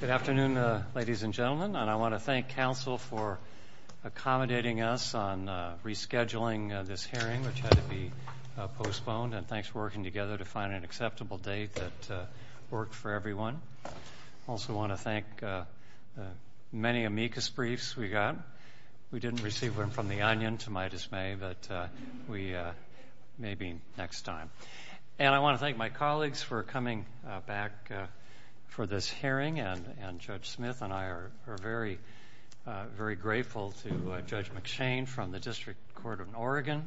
Good afternoon, ladies and gentlemen. I want to thank Council for accommodating us on rescheduling this hearing, which had to be postponed, and thanks for working together to find an acceptable date that worked for everyone. I also want to thank many amicus briefs we got. We didn't receive one from the Onion, to my dismay, but maybe next time. And I want to thank my colleagues for coming back for this hearing, and Judge Smith and I are very grateful to Judge McShane from the District Court of Oregon.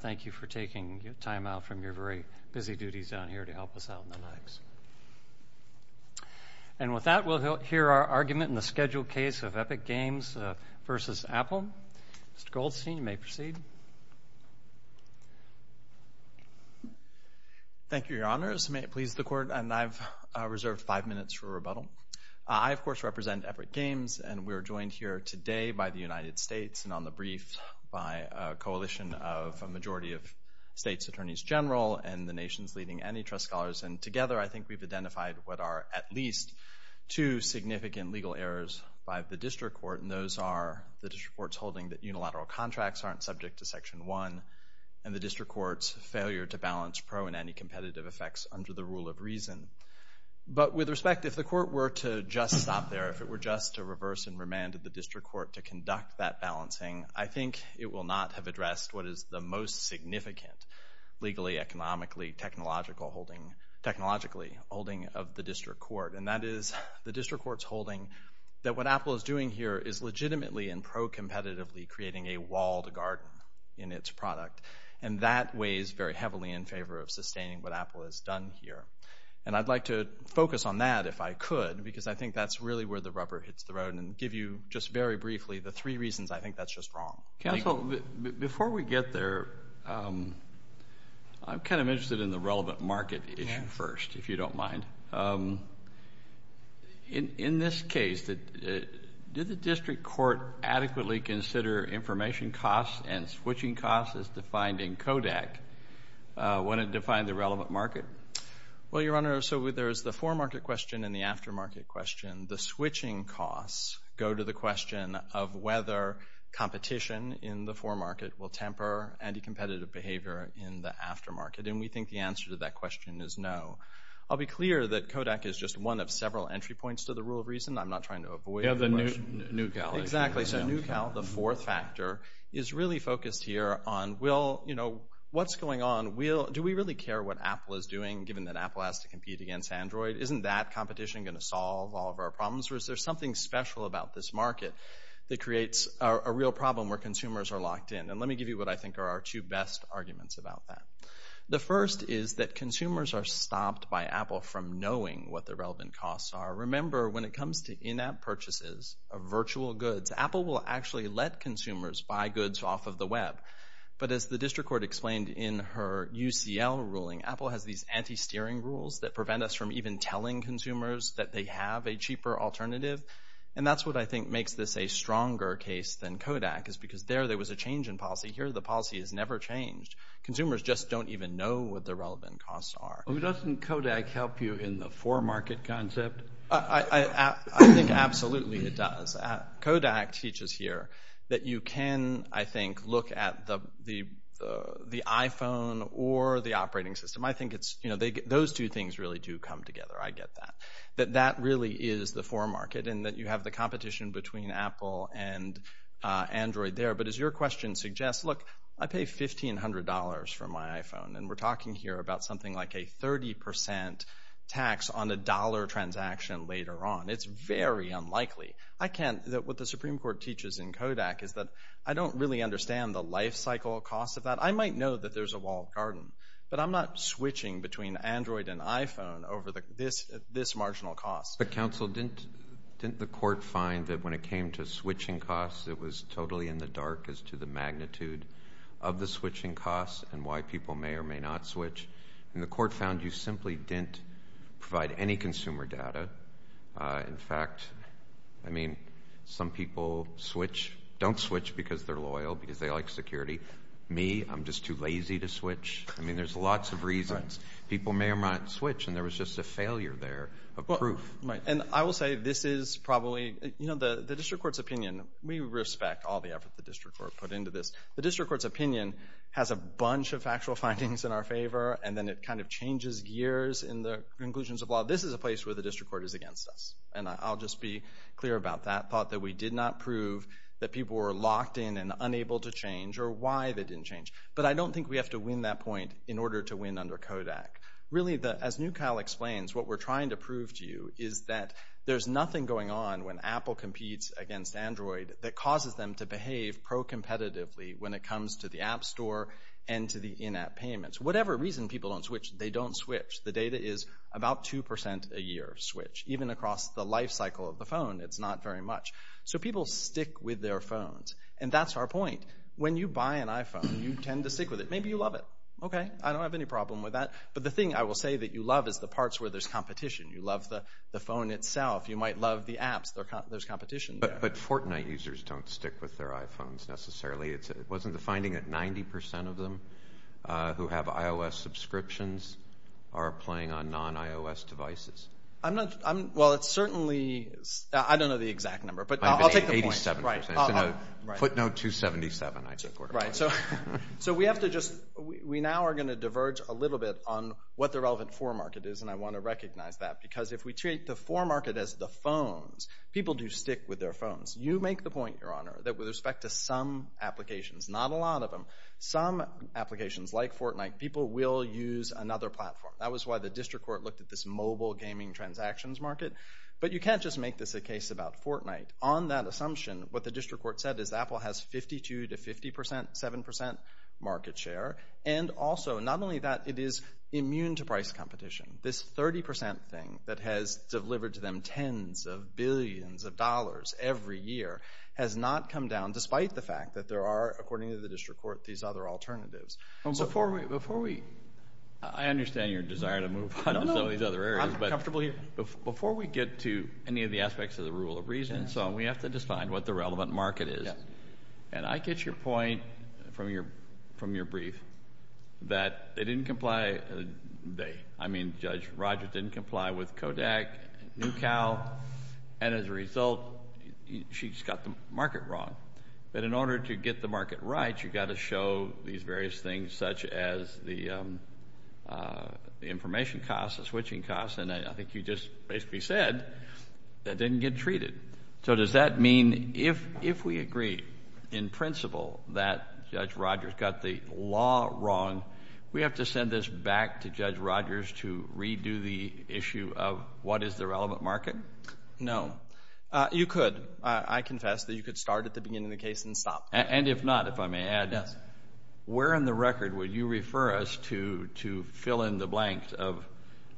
Thank you for taking time out from your very busy duties down here to help us out on the nights. And with that, we'll hear our argument in the scheduled case of Epic Games v. Apple. Mr. Goldstein, you may proceed. Thank you, Your Honors. May it please the Court. And I've reserved five minutes for rebuttal. I, of course, represent Epic Games, and we're joined here today by the United States and on the briefs by a coalition of a majority of states' attorneys general and the nation's leading antitrust scholars. And together, I think we've identified what are at least two significant legal errors by the District Court, and those are the District Court's holding that unilateral contracts aren't subject to Section 1 and the District Court's failure to balance pro and anti-competitive effects under the rule of reason. But with respect, if the Court were to just stop there, if it were just to reverse and remand the District Court to conduct that balancing, I think it will not have addressed what is the most significant legally, economically, technologically holding of the District Court, and that is the District Court's holding that what Apple is doing here is legitimately and pro-competitively creating a wall to guard in its product, and that weighs very heavily in favor of sustaining what Apple has done here. And I'd like to focus on that, if I could, because I think that's really where the rubber hits the road, and give you just very briefly the three reasons I think that's just wrong. Counsel, before we get there, I'm kind of interested in the relevant market issue first, if you don't mind. In this case, did the District Court adequately consider information costs and switching costs as defined in CODAC when it defined the relevant market? Well, Your Honor, so there's the foremarket question and the aftermarket question. The switching costs go to the question of whether competition in the foremarket will temper anti-competitive behavior in the aftermarket, and we think the answer to that question is no. I'll be clear that CODAC is just one of several entry points to the rule of reason. I'm not trying to avoid it. Yeah, the new Cal. Exactly. So new Cal, the fourth factor, is really focused here on, well, you know, what's going on? Do we really care what Apple is doing, given that Apple has to compete against Android? Isn't that competition going to solve all of our problems, or is there something special about this market that creates a real problem where consumers are locked in? And let me give you what I think are our two best arguments about that. The first is that consumers are stopped by Apple from knowing what the relevant costs are. Remember, when it comes to in-app purchases of virtual goods, Apple will actually let consumers buy goods off of the web. But as the District Court explained in her UCL ruling, Apple has these anti-steering rules that prevent us from even telling consumers that they have a cheaper alternative. And that's what I think makes this a stronger case than CODAC, is because there there was a change in policy. Here the policy has never changed. Consumers just don't even know what the relevant costs are. Doesn't CODAC help you in the for-market concept? I think absolutely it does. CODAC teaches here that you can, I think, look at the iPhone or the operating system. I think those two things really do come together. I get that. That that really is the for-market, and that you have the competition between Apple and Android there. But as your question suggests, look, I pay $1,500 for my iPhone, and we're talking here about something like a 30% tax on a dollar transaction later on. It's very unlikely. What the Supreme Court teaches in CODAC is that I don't really understand the lifecycle cost of that. I might know that there's a walled garden, but I'm not switching between Android and iPhone over this marginal cost. But, counsel, didn't the court find that when it came to switching costs, it was totally in the dark as to the magnitude of the switching costs and why people may or may not switch? And the court found you simply didn't provide any consumer data. In fact, I mean, some people switch, don't switch because they're loyal, because they like security. Me, I'm just too lazy to switch. I mean, there's lots of reasons. People may or might switch, and there was just a failure there of proof. And I will say this is probably, you know, the district court's opinion, we respect all the effort the district court put into this. The district court's opinion has a bunch of factual findings in our favor, and then it kind of changes gears in the conclusions of law. This is a place where the district court is against us. And I'll just be clear about that thought that we did not prove that people were locked in and unable to change or why they didn't change. But I don't think we have to win that point in order to win under CODAC. Really, as NewCal explains, what we're trying to prove to you is that there's nothing going on when Apple competes against Android that causes them to behave pro-competitively when it comes to the app store and to the in-app payments. Whatever reason people don't switch, they don't switch. The data is about 2% a year switch. Even across the life cycle of the phone, it's not very much. So people stick with their phones, and that's our point. When you buy an iPhone, you tend to stick with it. Maybe you love it. Okay, I don't have any problem with that. But the thing I will say that you love is the parts where there's competition. You love the phone itself. You might love the apps. There's competition there. But Fortnite users don't stick with their iPhones necessarily. Wasn't the finding that 90% of them who have iOS subscriptions are playing on non-iOS devices? Well, it's certainly—I don't know the exact number, but I'll take the point. 87%. Footnote 277, I took. Right. So we now are going to diverge a little bit on what the relevant for market is, and I want to recognize that because if we treat the for market as the phones, people do stick with their phones. You make the point, Your Honor, that with respect to some applications, not a lot of them, some applications like Fortnite, people will use another platform. That was why the district court looked at this mobile gaming transactions market. But you can't just make this a case about Fortnite. On that assumption, what the district court said is Apple has 52% to 57% market share. And also, not only that, it is immune to price competition. This 30% thing that has delivered to them tens of billions of dollars every year has not come down despite the fact that there are, according to the district court, these other alternatives. Before we—I understand your desire to move on to another area. I'm comfortable here. Before we get to any of the aspects of the rule of reason, we have to decide what the relevant market is. And I get your point from your brief that they didn't comply. I mean, Judge Rogers didn't comply with Kodak, NewCal, and as a result, she just got the market wrong. But in order to get the market right, you've got to show these various things such as the information costs, the switching costs, and I think you just basically said that didn't get treated. So does that mean if we agree in principle that Judge Rogers got the law wrong, we have to send this back to Judge Rogers to redo the issue of what is the relevant market? No. You could. I confess that you could start at the beginning of the case and stop. And if not, if I may add, where in the record would you refer us to to fill in the blanks of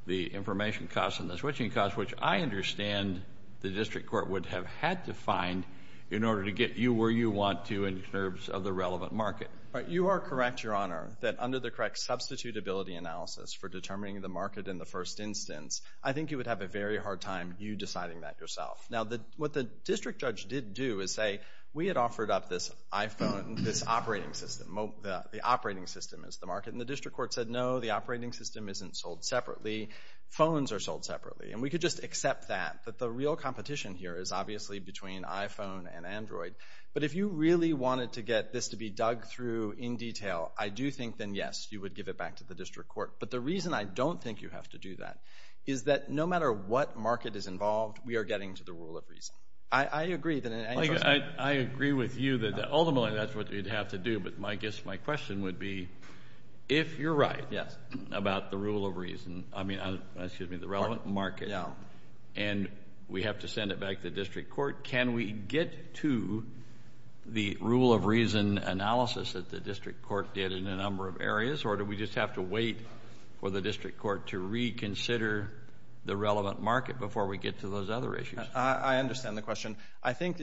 the information costs and the switching costs, which I understand the district court would have had to find in order to get you where you want to in terms of the relevant market. You are correct, Your Honor, that under the correct substitutability analysis for determining the market in the first instance, I think you would have a very hard time you deciding that yourself. Now, what the district judge did do is say, we had offered up this iPhone with its operating system. The operating system is the market. And the district court said, no, the operating system isn't sold separately. Phones are sold separately. And we could just accept that. But the real competition here is obviously between iPhone and Android. But if you really wanted to get this to be dug through in detail, I do think then, yes, you would give it back to the district court. But the reason I don't think you have to do that is that no matter what market is involved, we are getting to the rule of reason. I agree. I agree with you that ultimately that's what you'd have to do. But I guess my question would be, if you're right about the rule of reason, I mean, excuse me, the relevant market, and we have to send it back to the district court, can we get to the rule of reason analysis that the district court did in a number of areas? Or do we just have to wait for the district court to reconsider the relevant market before we get to those other issues? I understand the question. I think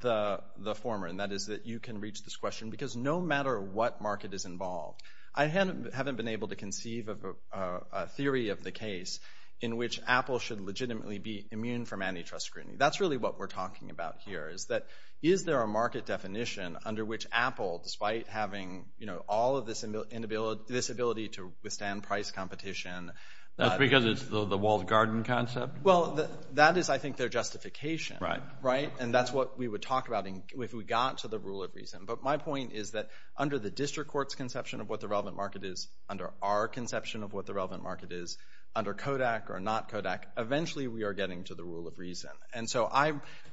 the former, and that is that you can reach this question because no matter what market is involved, I haven't been able to conceive of a theory of the case in which Apple should legitimately be immune from antitrust scrutiny. That's really what we're talking about here, is that is there a market definition under which Apple, despite having all of this inability to withstand price competition. That's because it's the walled garden concept? Well, that is, I think, their justification, right? And that's what we would talk about if we got to the rule of reason. But my point is that under the district court's conception of what the relevant market is, under our conception of what the relevant market is, under Kodak or not Kodak, eventually we are getting to the rule of reason. And so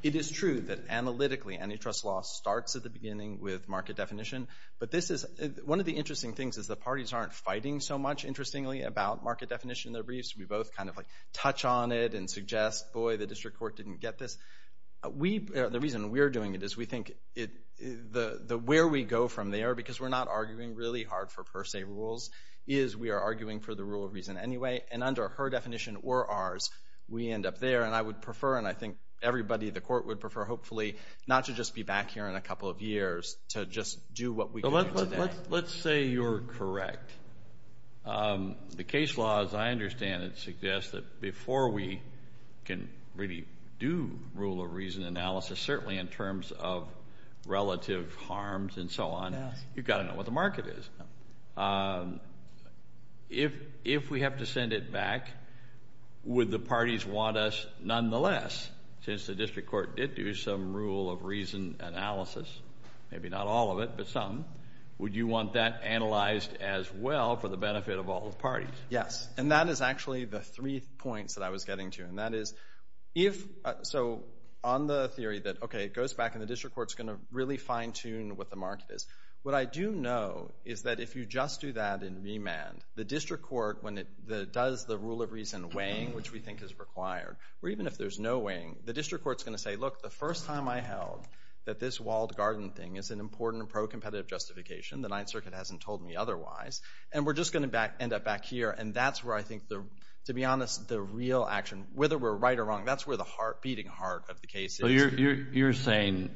it is true that analytically antitrust law starts at the beginning with market definition. But one of the interesting things is the parties aren't fighting so much, interestingly, about market definition in their briefs. We both kind of touch on it and suggest, boy, the district court didn't get this. The reason we're doing it is we think the where we go from there, because we're not arguing really hard for per se rules, is we are arguing for the rule of reason anyway. And under her definition or ours, we end up there. And I would prefer, and I think everybody in the court would prefer, hopefully, not to just be back here in a couple of years to just do what we do. Let's say you're correct. The case law, as I understand it, suggests that before we can really do rule of reason analysis, certainly in terms of relative harms and so on, you've got to know what the market is. If we have to send it back, would the parties want us nonetheless, since the district court did do some rule of reason analysis, maybe not all of it, but some, would you want that analyzed as well for the benefit of all the parties? Yes, and that is actually the three points that I was getting to. And that is, so on the theory that, okay, it goes back, and the district court's going to really fine-tune what the market is. What I do know is that if you just do that in remand, the district court, when it does the rule of reason weighing, which we think is required, or even if there's no weighing, the district court's going to say, look, the first time I held that this walled garden thing is an important pro-competitive justification. The Ninth Circuit hasn't told me otherwise. And we're just going to end up back here. And that's where I think, to be honest, the real action, whether we're right or wrong, that's where the beating heart of the case is. So you're saying,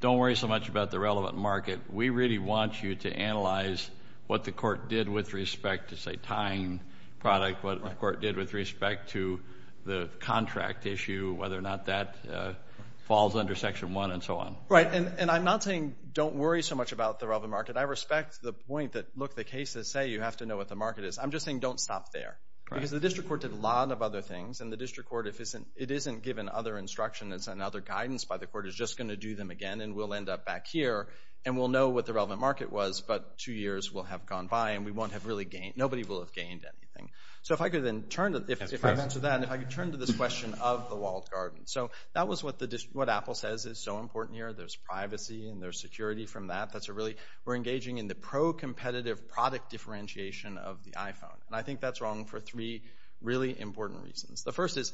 don't worry so much about the relevant market. We really want you to analyze what the court did with respect to, say, tying product, what the court did with respect to the contract issue, whether or not that falls under Section 1 and so on. Right, and I'm not saying don't worry so much about the relevant market. I respect the point that, look, the cases say you have to know what the market is. I'm just saying don't stop there. Because the district court did a lot of other things, and the district court, if it isn't given other instruction and other guidance by the court, is just going to do them again, and we'll end up back here, and we'll know what the relevant market was, but two years will have gone by, and nobody will have gained anything. So if I could then turn to this question of the walled garden. So that was what Apple says is so important here. There's privacy and there's security from that. We're engaging in the pro-competitive product differentiation of the iPhone, and I think that's wrong for three really important reasons. The first is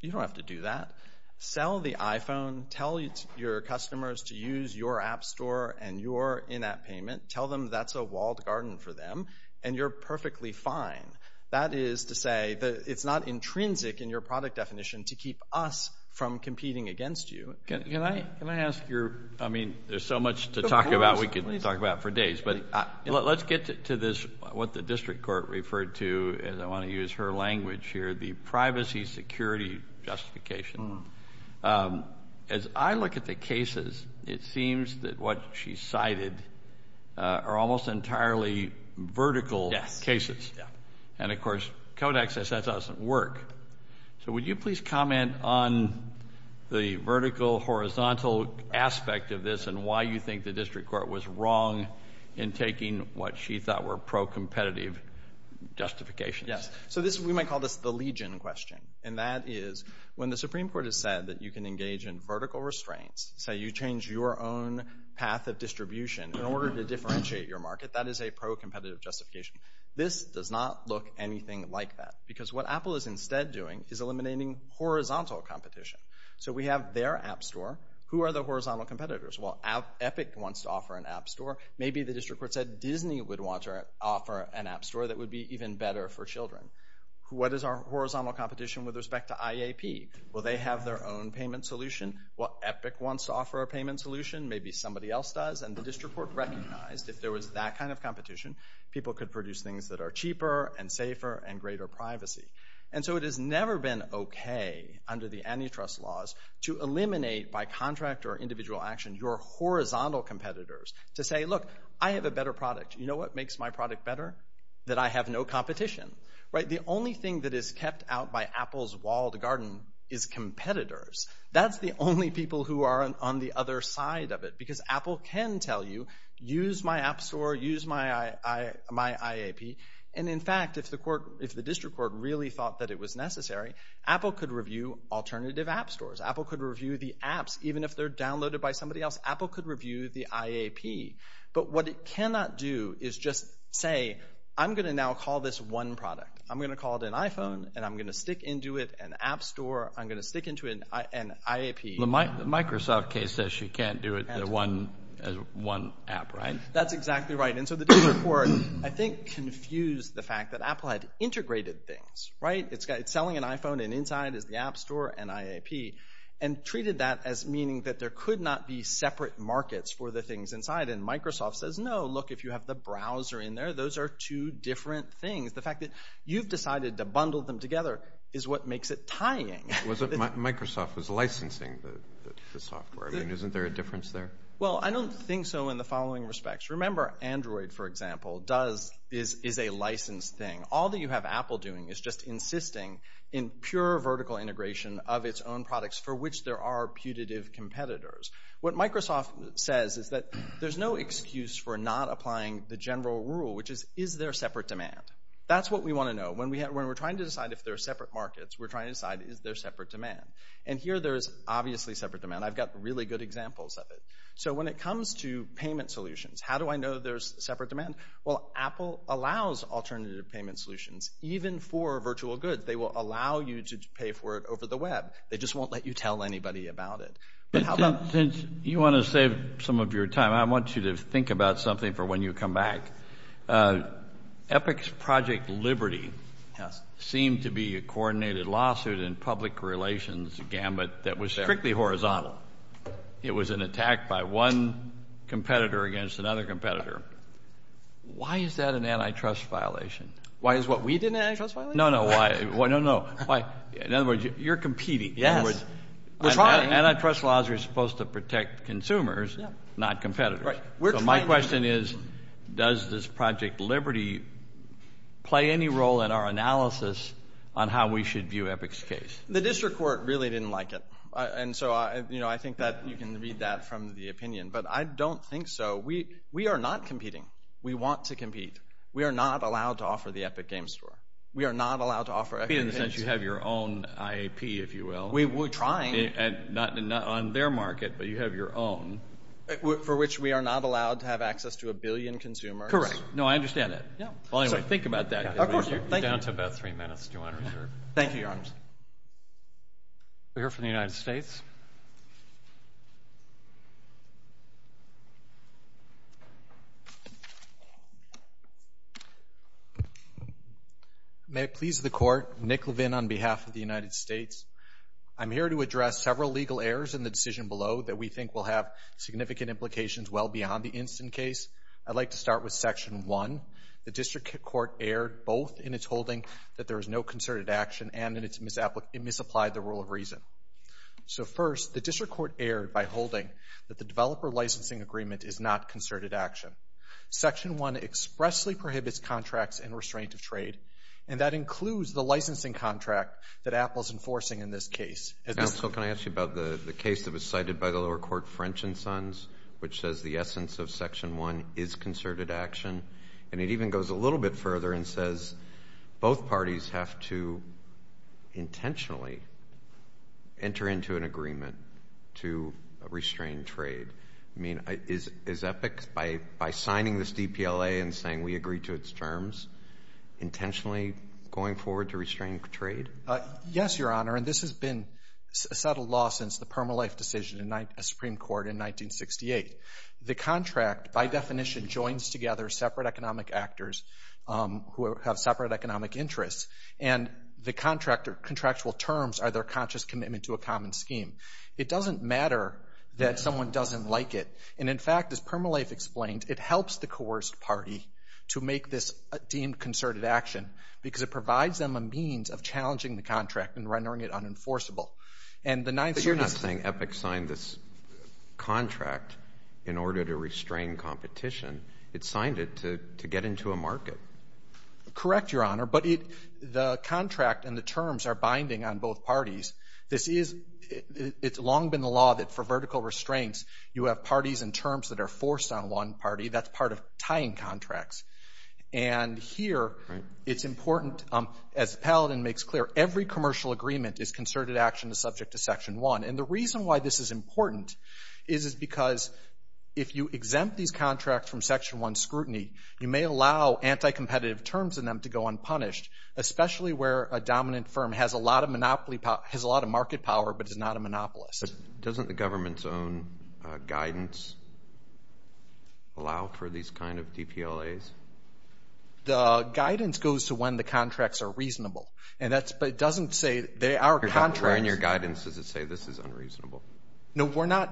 you don't have to do that. Sell the iPhone. Tell your customers to use your app store and your in-app payment. Tell them that's a walled garden for them, and you're perfectly fine. That is to say that it's not intrinsic in your product definition to keep us from competing against you. Can I ask your, I mean, there's so much to talk about we could talk about for days, but let's get to this, what the district court referred to, and I want to use her language here, the privacy security justification. As I look at the cases, it seems that what she cited are almost entirely vertical cases. And, of course, codex says that doesn't work. So would you please comment on the vertical, horizontal aspect of this and why you think the district court was wrong in taking what she thought were pro-competitive justifications? Yes, so we might call this the legion question, and that is when the Supreme Court has said that you can engage in vertical restraints, say you change your own path of distribution in order to differentiate your market, that is a pro-competitive justification. This does not look anything like that because what Apple is instead doing is eliminating horizontal competition. So we have their app store. Who are the horizontal competitors? Well, Epic wants to offer an app store. Maybe the district court said Disney would want to offer an app store that would be even better for children. What is our horizontal competition with respect to IAP? Well, they have their own payment solution. Well, Epic wants to offer a payment solution. People could produce things that are cheaper and safer and greater privacy. And so it has never been okay under the antitrust laws to eliminate by contract or individual action your horizontal competitors to say, look, I have a better product. You know what makes my product better? That I have no competition. The only thing that is kept out by Apple's walled garden is competitors. That's the only people who are on the other side of it because Apple can tell you, use my app store, use my IAP. And in fact, if the district court really thought that it was necessary, Apple could review alternative app stores. Apple could review the apps even if they're downloaded by somebody else. Apple could review the IAP. But what it cannot do is just say, I'm going to now call this one product. I'm going to call it an iPhone and I'm going to stick into it an app store. I'm going to stick into it an IAP. The Microsoft case says you can't do it in one app, right? That's exactly right. And so the district court, I think, confused the fact that Apple had integrated things, right? It's selling an iPhone and inside is the app store and IAP and treated that as meaning that there could not be separate markets for the things inside. And Microsoft says, no, look, if you have the browser in there, those are two different things. The fact that you've decided to bundle them together is what makes it tying. Microsoft is licensing the software. Isn't there a difference there? Well, I don't think so in the following respects. Remember, Android, for example, is a licensed thing. All that you have Apple doing is just insisting in pure vertical integration of its own products for which there are putative competitors. What Microsoft says is that there's no excuse for not applying the general rule, which is, is there separate demand? That's what we want to know. When we're trying to decide if there are separate markets, we're trying to decide is there separate demand? And here there is obviously separate demand. I've got really good examples of it. So when it comes to payment solutions, how do I know there's separate demand? Well, Apple allows alternative payment solutions even for virtual goods. They will allow you to pay for it over the web. They just won't let you tell anybody about it. Since you want to save some of your time, I want you to think about something for when you come back. EPIC's Project Liberty seemed to be a coordinated lawsuit in public relations gambit that was strictly horizontal. It was an attack by one competitor against another competitor. Why is that an antitrust violation? Why is what we did an antitrust violation? No, no, no. In other words, you're competing. Antitrust laws are supposed to protect consumers, not competitors. So my question is, does this Project Liberty play any role in our analysis on how we should view EPIC's case? The district court really didn't like it. And so I think that you can read that from the opinion. But I don't think so. We are not competing. We want to compete. We are not allowed to offer the EPIC Games Store. We are not allowed to offer EPIC Games Store. You have your own IAP, if you will. We're trying. Not on their market, but you have your own. For which we are not allowed to have access to a billion consumers. Correct. No, I understand that. So think about that. Of course. Thank you. We're down to about three minutes, Your Honor. Thank you, Your Honor. We'll hear from the United States. May it please the Court, Nick Levin on behalf of the United States. I'm here to address several legal errors in the decision below that we think will have significant implications well beyond the instant case. I'd like to start with Section 1. The district court erred both in its holding that there is no concerted action and that it misapplied the rule of reason. So first, the district court erred by holding that the developer licensing agreement is not concerted action. Section 1 expressly prohibits contracts and restraint of trade. And that includes the licensing contract that Apple is enforcing in this case. So can I ask you about the case that was cited by the lower court, French & Sons, which says the essence of Section 1 is concerted action? And it even goes a little bit further and says both parties have to intentionally enter into an agreement to restrain trade. I mean, is EPIC, by signing this DPLA and saying we agree to its terms, intentionally going forward to restrain trade? Yes, Your Honor, and this has been a settled law since the Permanent Life Decision of the Supreme Court in 1968. The contract, by definition, joins together separate economic actors who have separate economic interests. And the contractual terms are their conscious commitment to a common scheme. It doesn't matter that someone doesn't like it. And in fact, as Permanent Life explained, it helps the coerced party to make this deemed concerted action because it provides them a means of challenging the contract and rendering it unenforceable. But you're not saying EPIC signed this contract in order to restrain competition. It signed it to get into a market. Correct, Your Honor, but the contract and the terms are binding on both parties. It's long been the law that for vertical restraints, you have parties and terms that are forced on one party. That's part of tying contracts. And here, it's important, as Paladin makes clear, every commercial agreement is concerted action subject to Section 1. And the reason why this is important is because if you exempt these contracts from Section 1 scrutiny, you may allow anti-competitive terms in them to go unpunished, especially where a dominant firm has a lot of market power but is not a monopolist. But doesn't the government's own guidance allow for these kind of DPLAs? The guidance goes to when the contracts are reasonable. But it doesn't say they are contracts. In your guidance, does it say this is unreasonable? No,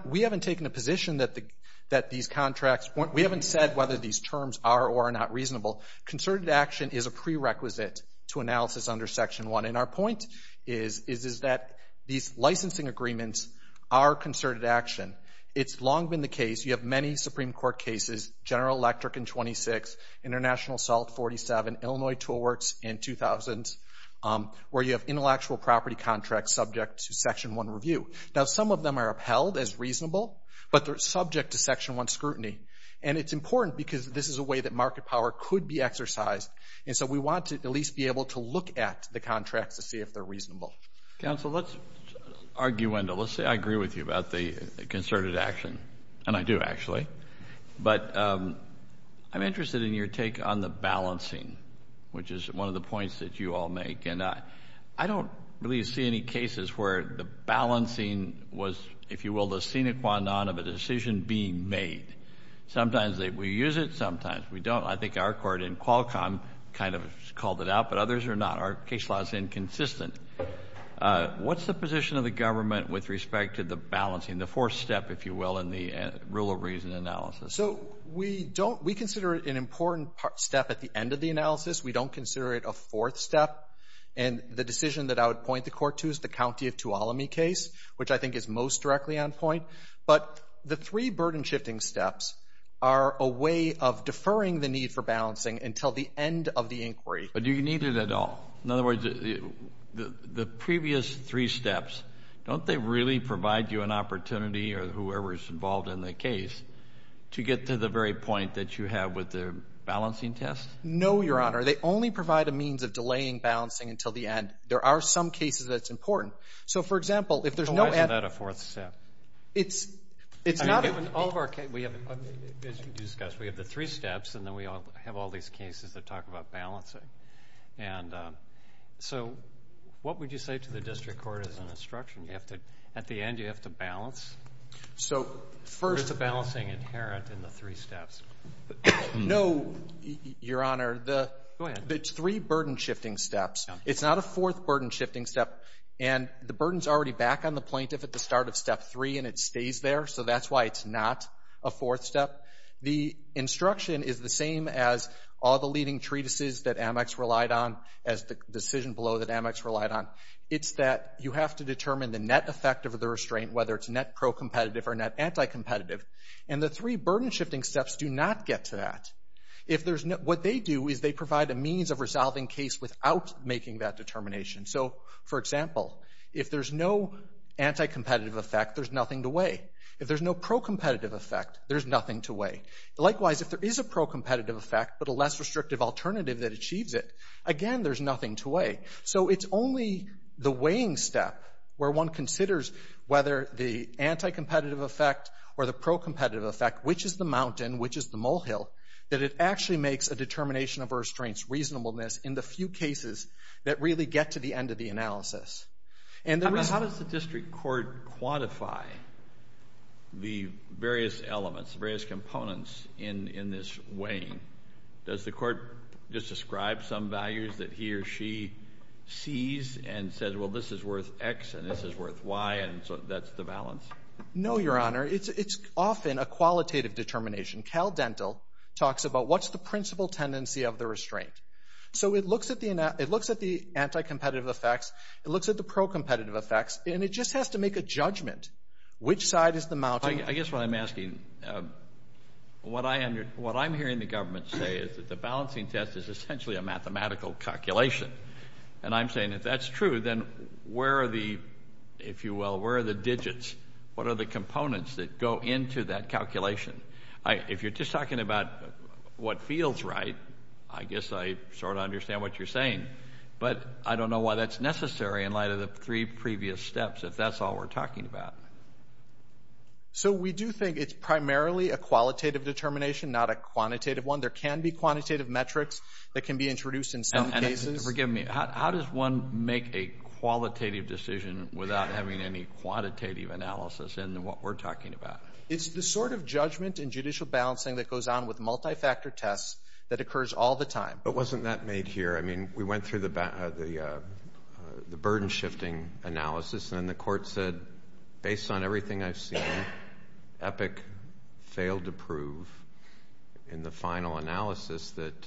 we haven't taken a position that these contracts, we haven't said whether these terms are or are not reasonable. Concerted action is a prerequisite to analysis under Section 1. And our point is that these licensing agreements are concerted action. It's long been the case, you have many Supreme Court cases, General Electric in 26, International South 47, Illinois Tool Works in 2000s, where you have intellectual property contracts subject to Section 1 review. Now, some of them are upheld as reasonable, but they're subject to Section 1 scrutiny. And it's important because this is a way that market power could be exercised. And so we want to at least be able to look at the contract to see if they're reasonable. Counsel, let's argue, let's say I agree with you about the concerted action. And I do, actually. But I'm interested in your take on the balancing, which is one of the points that you all make. I don't really see any cases where the balancing was, if you will, the sine qua non of a decision being made. Sometimes we use it, sometimes we don't. I think our court in Qualcomm kind of called it out, but others are not. Our case law is inconsistent. What's the position of the government with respect to the balancing, the fourth step, if you will, in the rule of reason analysis? So we consider it an important step at the end of the analysis. We don't consider it a fourth step. And the decision that I would point the court to is the County of Tuolumne case, which I think is most directly on point. But the three burden-shifting steps are a way of deferring the need for balancing until the end of the inquiry. But do you need it at all? In other words, the previous three steps, don't they really provide you an opportunity or whoever is involved in the case to get to the very point that you have with the balancing test? No, Your Honor. They only provide a means of delaying balancing until the end. There are some cases that it's important. So, for example, if there's no... So why is that a fourth step? It's not an over... We have the three steps, and then we have all these cases that talk about balancing. And so what would you say to the district court as an instruction? At the end you have to balance? So first... Is the balancing inherent in the three steps? No, Your Honor. Go ahead. It's three burden-shifting steps. It's not a fourth burden-shifting step. And the burden's already back on the plaintiff at the start of step three, and it stays there. So that's why it's not a fourth step. The instruction is the same as all the leading treatises that Amex relied on, as the decision below that Amex relied on. It's that you have to determine the net effect of the restraint, whether it's net pro-competitive or net anti-competitive. And the three burden-shifting steps do not get to that. What they do is they provide a means of resolving case without making that determination. So, for example, if there's no anti-competitive effect, there's nothing to weigh. If there's no pro-competitive effect, there's nothing to weigh. Likewise, if there is a pro-competitive effect but a less restrictive alternative that achieves it, again, there's nothing to weigh. So it's only the weighing step where one considers whether the anti-competitive effect or the pro-competitive effect, which is the mountain, which is the molehill, that it actually makes a determination of restraint's reasonableness in the few cases that really get to the end of the analysis. And then how does the district court quantify the various elements, various components in this weighing? Does the court just describe some values that he or she sees and says, well, this is worth X and this is worth Y, and so that's the balance? No, Your Honor. It's often a qualitative determination. Cal Dental talks about what's the principal tendency of the restraint. So it looks at the anti-competitive effects. It looks at the pro-competitive effects. And it just has to make a judgment, which side is the mountain. Well, I guess what I'm asking, what I'm hearing the government say is that the balancing test is essentially a mathematical calculation. And I'm saying if that's true, then where are the, if you will, where are the digits? What are the components that go into that calculation? If you're just talking about what feels right, I guess I sort of understand what you're saying. But I don't know why that's necessary in light of the three previous steps, if that's all we're talking about. So we do think it's primarily a qualitative determination, not a quantitative one. There can be quantitative metrics that can be introduced in some cases. And forgive me, how does one make a qualitative decision without having any quantitative analysis in what we're talking about? It's the sort of judgment and judicial balancing that goes on with multi-factor tests that occurs all the time. But wasn't that made here? I mean, we went through the burden-shifting analysis, and the court said, based on everything I've seen, EPIC failed to prove in the final analysis that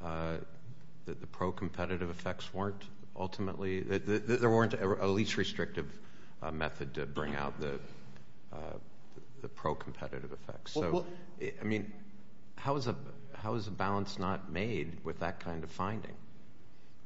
the pro-competitive effects weren't ultimately, that there weren't a least restrictive method to bring out the pro-competitive effects. I mean, how is a balance not made with that kind of finding?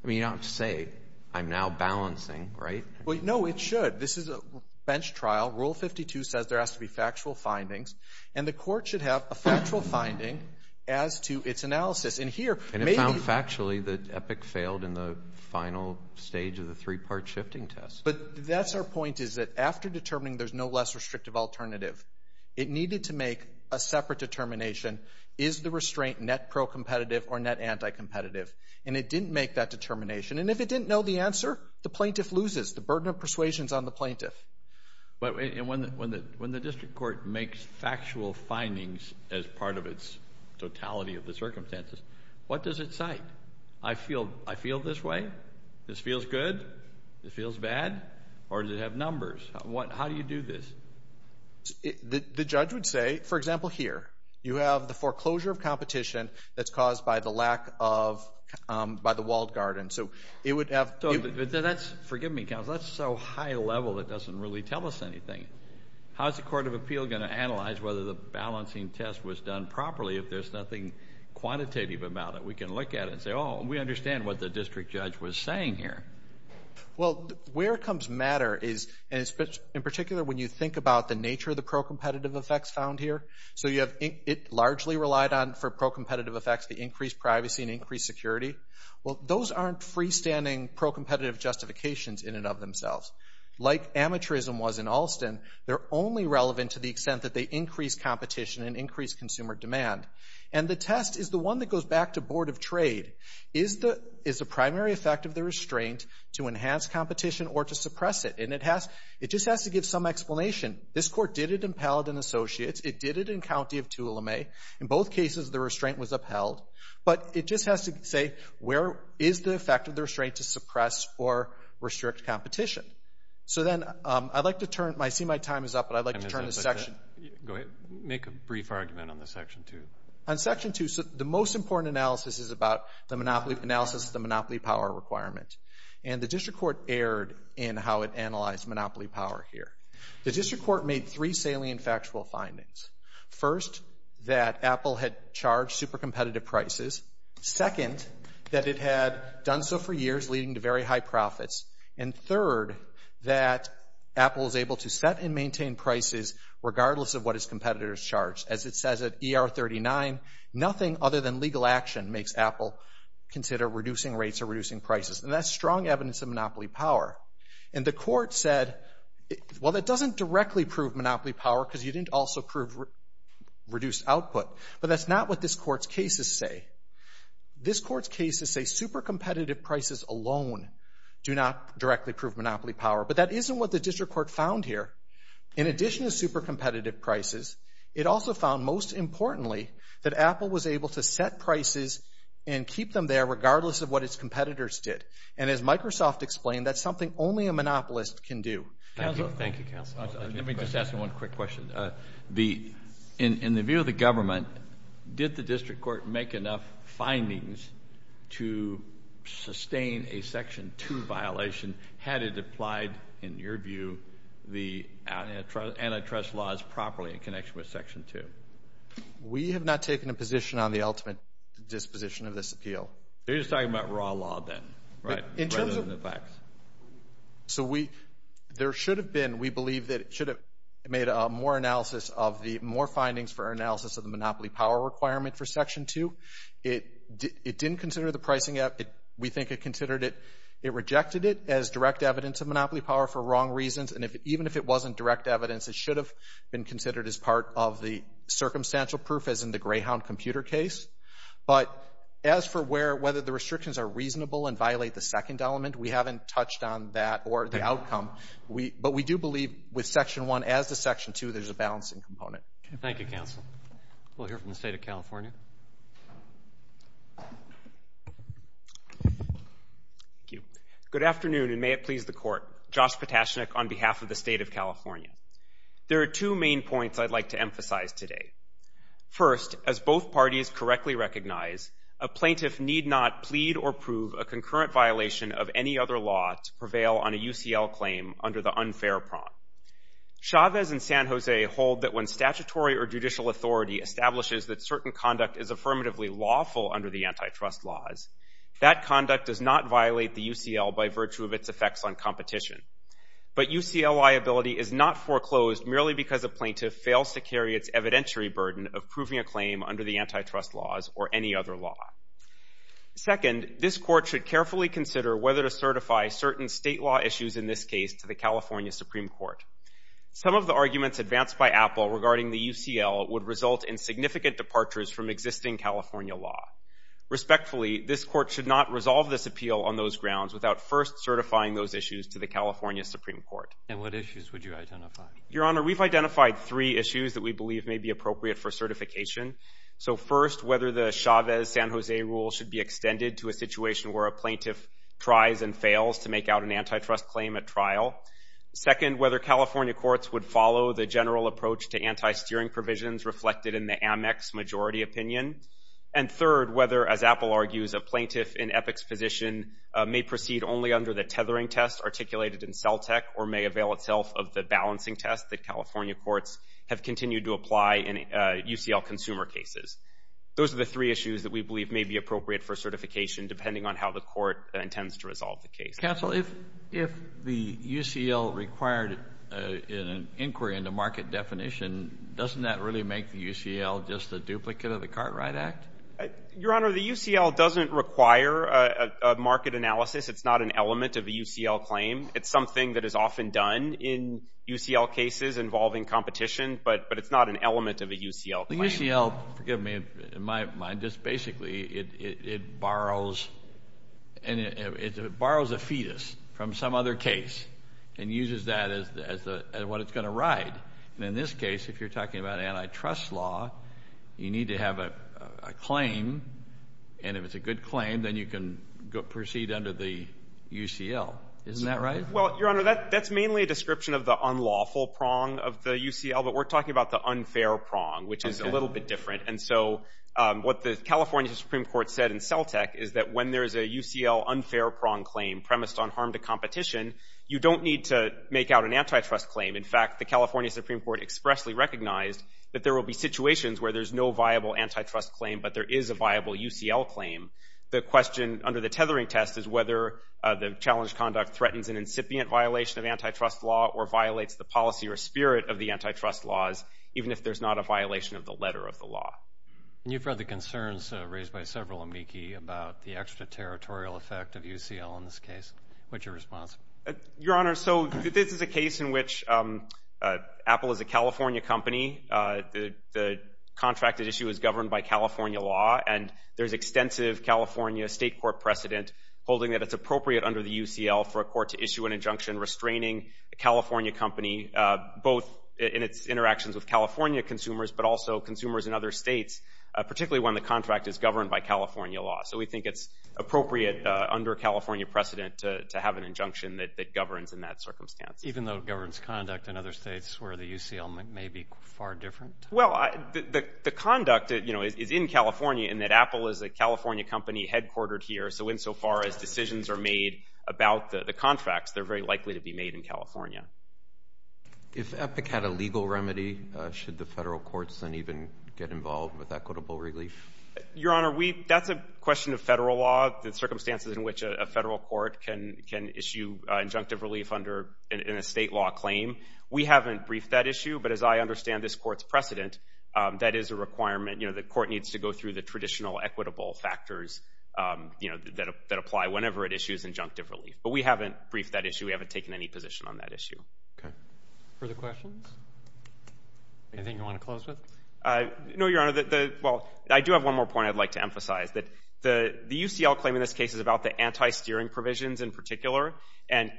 I mean, you don't have to say, I'm now balancing, right? Well, no, it should. This is a bench trial. Rule 52 says there has to be factual findings, and the court should have a factual finding as to its analysis. And it found factually that EPIC failed in the final stage of the three-part shifting test. But that's our point, is that after determining there's no less restrictive alternative, it needed to make a separate determination, is the restraint net pro-competitive or net anti-competitive? And it didn't make that determination. And if it didn't know the answer, the plaintiff loses. The burden of persuasion is on the plaintiff. And when the district court makes factual findings as part of its totality of the circumstances, what does it cite? I feel this way? This feels good? This feels bad? Or does it have numbers? How do you do this? The judge would say, for example, here. You have the foreclosure of competition that's caused by the lack of, by the walled garden. So it would have- Forgive me, counsel. That's so high level, it doesn't really tell us anything. How's the Court of Appeal going to analyze whether the balancing test was done properly if there's nothing quantitative about it? We can look at it and say, oh, we understand what the district judge was saying here. Well, where comes matter is, in particular, when you think about the nature of the pro-competitive effects found here. So you have it largely relied on for pro-competitive effects to increase privacy and increase security. Well, those aren't freestanding pro-competitive justifications in and of themselves. Like amateurism was in Alston, they're only relevant to the extent that they increase competition and increase consumer demand. And the test is the one that goes back to Board of Trade. Is the primary effect of the restraint to enhance competition or to suppress it? And it just has to give some explanation. This court did it in Paladin Associates. It did it in County of Tulemae. In both cases, the restraint was upheld. But it just has to say, where is the effect of the restraint to suppress or restrict competition? So then I'd like to turn- I see my time is up, but I'd like to turn to section- Go ahead. Make a brief argument on the Section 2. On Section 2, the most important analysis is about the monopoly analysis of the monopoly power requirements. And the district court erred in how it analyzed monopoly power here. The district court made three salient factual findings. First, that Apple had charged super-competitive prices. Second, that it had done so for years, leading to very high profits. And third, that Apple was able to set and maintain prices regardless of what its competitors charged. As it says at ER 39, nothing other than legal action makes Apple consider reducing rates or reducing prices. And that's strong evidence of monopoly power. And the court said, well, that doesn't directly prove monopoly power because you didn't also prove reduced output. But that's not what this court's cases say. This court's cases say super-competitive prices alone do not directly prove monopoly power. But that isn't what the district court found here. In addition to super-competitive prices, it also found, most importantly, that Apple was able to set prices and keep them there regardless of what its competitors did. And as Microsoft explained, that's something only a monopolist can do. Thank you, counsel. Let me just ask you one quick question. In the view of the government, did the district court make enough findings to sustain a Section 2 violation? And had it applied, in your view, the antitrust laws properly in connection with Section 2? We have not taken a position on the ultimate disposition of this appeal. You're just talking about raw law then, right, rather than the facts? So there should have been, we believe that it should have made more analysis of the, more findings for analysis of the monopoly power requirement for Section 2. It didn't consider the pricing. We think it considered it, it rejected it as direct evidence of monopoly power for wrong reasons. And even if it wasn't direct evidence, it should have been considered as part of the circumstantial proof as in the Greyhound computer case. But as for whether the restrictions are reasonable and violate the second element, we haven't touched on that or the outcome. But we do believe with Section 1 as the Section 2, there's a balancing component. We'll hear from the State of California. Thank you. Good afternoon and may it please the Court. Josh Potashnik on behalf of the State of California. There are two main points I'd like to emphasize today. First, as both parties correctly recognize, a plaintiff need not plead or prove a concurrent violation of any other law to prevail on a UCL claim under the unfair prompt. Chavez and San Jose hold that when statutory or judicial authority establishes that certain conduct is affirmatively lawful under the antitrust laws, that conduct does not violate the UCL by virtue of its effects on competition. But UCL liability is not foreclosed merely because a plaintiff fails to carry its evidentiary burden of proving a claim under the antitrust laws or any other law. Second, this Court should carefully consider whether to certify certain state law issues, in this case, to the California Supreme Court. Some of the arguments advanced by Apple regarding the UCL would result in significant departures from existing California law. Respectfully, this Court should not resolve this appeal on those grounds without first certifying those issues to the California Supreme Court. And what issues would you identify? Your Honor, we've identified three issues that we believe may be appropriate for certification. So first, whether the Chavez-San Jose rule should be extended to a situation where a plaintiff tries and fails to make out an antitrust claim at trial. Second, whether California courts would follow the general approach to anti-steering provisions reflected in the Amex majority opinion. And third, whether, as Apple argues, a plaintiff in Epic's position may proceed only under the tethering test articulated in CELTEC or may avail itself of the balancing test that California courts have continued to apply in UCL consumer cases. Those are the three issues that we believe may be appropriate for certification, depending on how the Court intends to resolve the case. Counsel, if the UCL required an inquiry in the market definition, doesn't that really make the UCL just a duplicate of the Cartwright Act? Your Honor, the UCL doesn't require a market analysis. It's not an element of the UCL claim. It's something that is often done in UCL cases involving competition, but it's not an element of a UCL claim. The UCL, forgive me, in my mind, just basically it borrows a fetus from some other case and uses that as what it's going to write. And in this case, if you're talking about antitrust law, you need to have a claim, and if it's a good claim, then you can proceed under the UCL. Isn't that right? Well, Your Honor, that's mainly a description of the unlawful prong of the UCL, but we're talking about the unfair prong, which is a little bit different. And so what the California Supreme Court said in CELTEC is that when there's a UCL unfair prong claim premised on harm to competition, you don't need to make out an antitrust claim. In fact, the California Supreme Court expressly recognized that there will be situations where there's no viable antitrust claim, but there is a viable UCL claim. The question under the tethering test is whether the challenged conduct threatens an incipient violation of antitrust law or violates the policy or spirit of the antitrust laws, even if there's not a violation of the letter of the law. And you've read the concerns raised by several amici about the extraterritorial effect of UCL in this case. What's your response? Your Honor, so this is a case in which Apple is a California company. The contract at issue is governed by California law, and there's extensive California state court precedent holding that it's appropriate under the UCL for a court to issue an injunction restraining a California company, both in its interactions with California consumers, but also consumers in other states, particularly when the contract is governed by California law. So we think it's appropriate under California precedent to have an injunction that governs in that circumstance. Even though it governs conduct in other states where the UCL may be far different? Well, the conduct is in California in that Apple is a California company headquartered here, so insofar as decisions are made about the contracts, they're very likely to be made in California. Is EPCAT a legal remedy? Should the federal courts then even get involved with equitable relief? Your Honor, that's a question of federal law, the circumstances in which a federal court can issue injunctive relief under a state law claim. We haven't briefed that issue, but as I understand this court's precedent, that is a requirement. The court needs to go through the traditional equitable factors that apply whenever it issues injunctive relief. But we haven't briefed that issue. We haven't taken any position on that issue. Further questions? Anything you want to close with? No, Your Honor. Well, I do have one more point I'd like to emphasize. The UCL claim in this case is about the anti-steering provisions in particular, and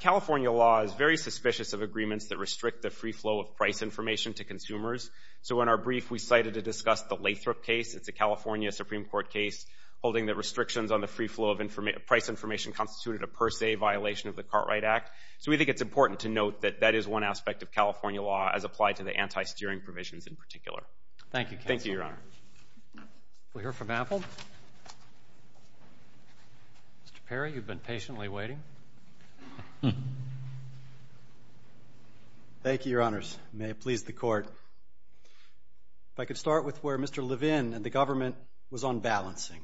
California law is very suspicious of agreements that restrict the free flow of price information to consumers. So in our brief, we cited to discuss the Lakebrook case. It's a California Supreme Court case holding that restrictions on the free flow of price information constituted a per se violation of the Cartwright Act. So we think it's important to note that that is one aspect of California law as applied to the anti-steering provisions in particular. Thank you, Your Honor. We hear from Apple. Mr. Perry, you've been patiently waiting. Thank you, Your Honors. May it please the Court. If I could start with where Mr. Levin and the government was on balancing.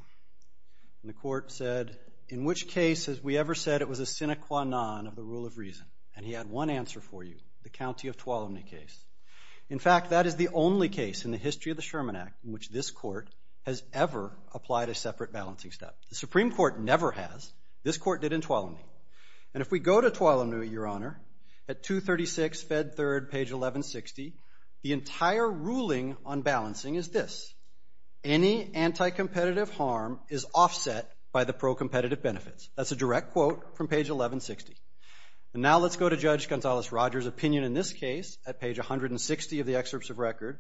The Court said, in which case has we ever said it was a sine qua non of the rule of reason? And he had one answer for you, the County of Tuolumne case. In fact, that is the only case in the history of the Sherman Act in which this Court has ever applied a separate balancing step. The Supreme Court never has. This Court did in Tuolumne. And if we go to Tuolumne, Your Honor, at 236 Fed Third, page 1160, the entire ruling on balancing is this. Any anti-competitive harm is offset by the pro-competitive benefits. That's a direct quote from page 1160. And now let's go to Judge Gonzales-Rogers' opinion in this case, at page 160 of the excerpts of record,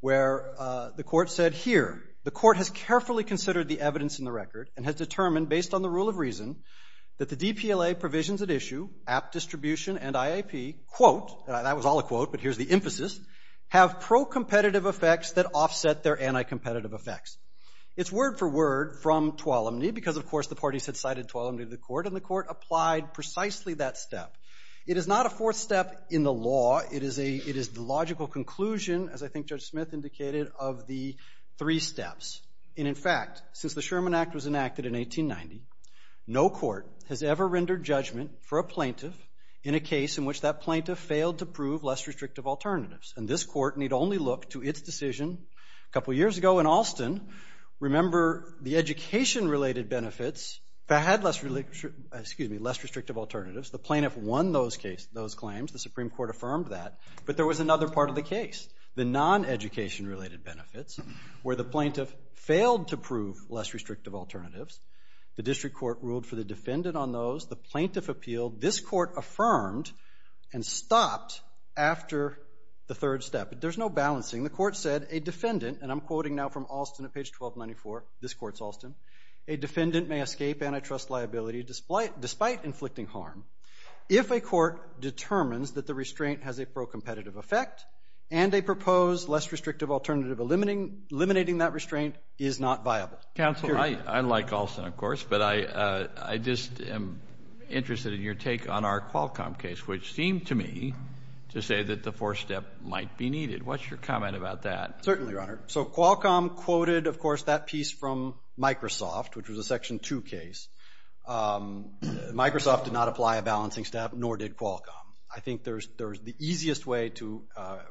where the Court said here, the Court has carefully considered the evidence in the record and has determined, based on the rule of reason, that the DPLA provisions at issue, app distribution and IAP, quote, that was all a quote, but here's the emphasis, have pro-competitive effects that offset their anti-competitive effects. It's word for word from Tuolumne because, of course, the parties had cited Tuolumne to the Court, and the Court applied precisely that step. It is not a fourth step in the law. It is a logical conclusion, as I think Judge Smith indicated, of the three steps. And in fact, since the Sherman Act was enacted in 1890, no court has ever rendered judgment for a plaintiff in a case in which that plaintiff failed to prove less restrictive alternatives. And this Court need only look to its decision a couple years ago in Austin. Remember, the education-related benefits had less restrictive alternatives. The plaintiff won those claims. The Supreme Court affirmed that. But there was another part of the case, the non-education-related benefits, where the plaintiff failed to prove less restrictive alternatives. The district court ruled for the defendant on those. The plaintiff appealed. This Court affirmed and stopped after the third step. There's no balancing. The Court said a defendant, and I'm quoting now from Austin at page 1294. This Court's Austin. A defendant may escape antitrust liability despite inflicting harm if a court determines that the restraint has a pro-competitive effect and a proposed less restrictive alternative eliminating that restraint is not viable. Counselor, I like Austin, of course, but I just am interested in your take on our Qualcomm case, which seemed to me to say that the fourth step might be needed. What's your comment about that? Certainly, Your Honor. So Qualcomm quoted, of course, that piece from Microsoft, which was a Section 2 case. Microsoft did not apply a balancing step, nor did Qualcomm. I think the easiest way to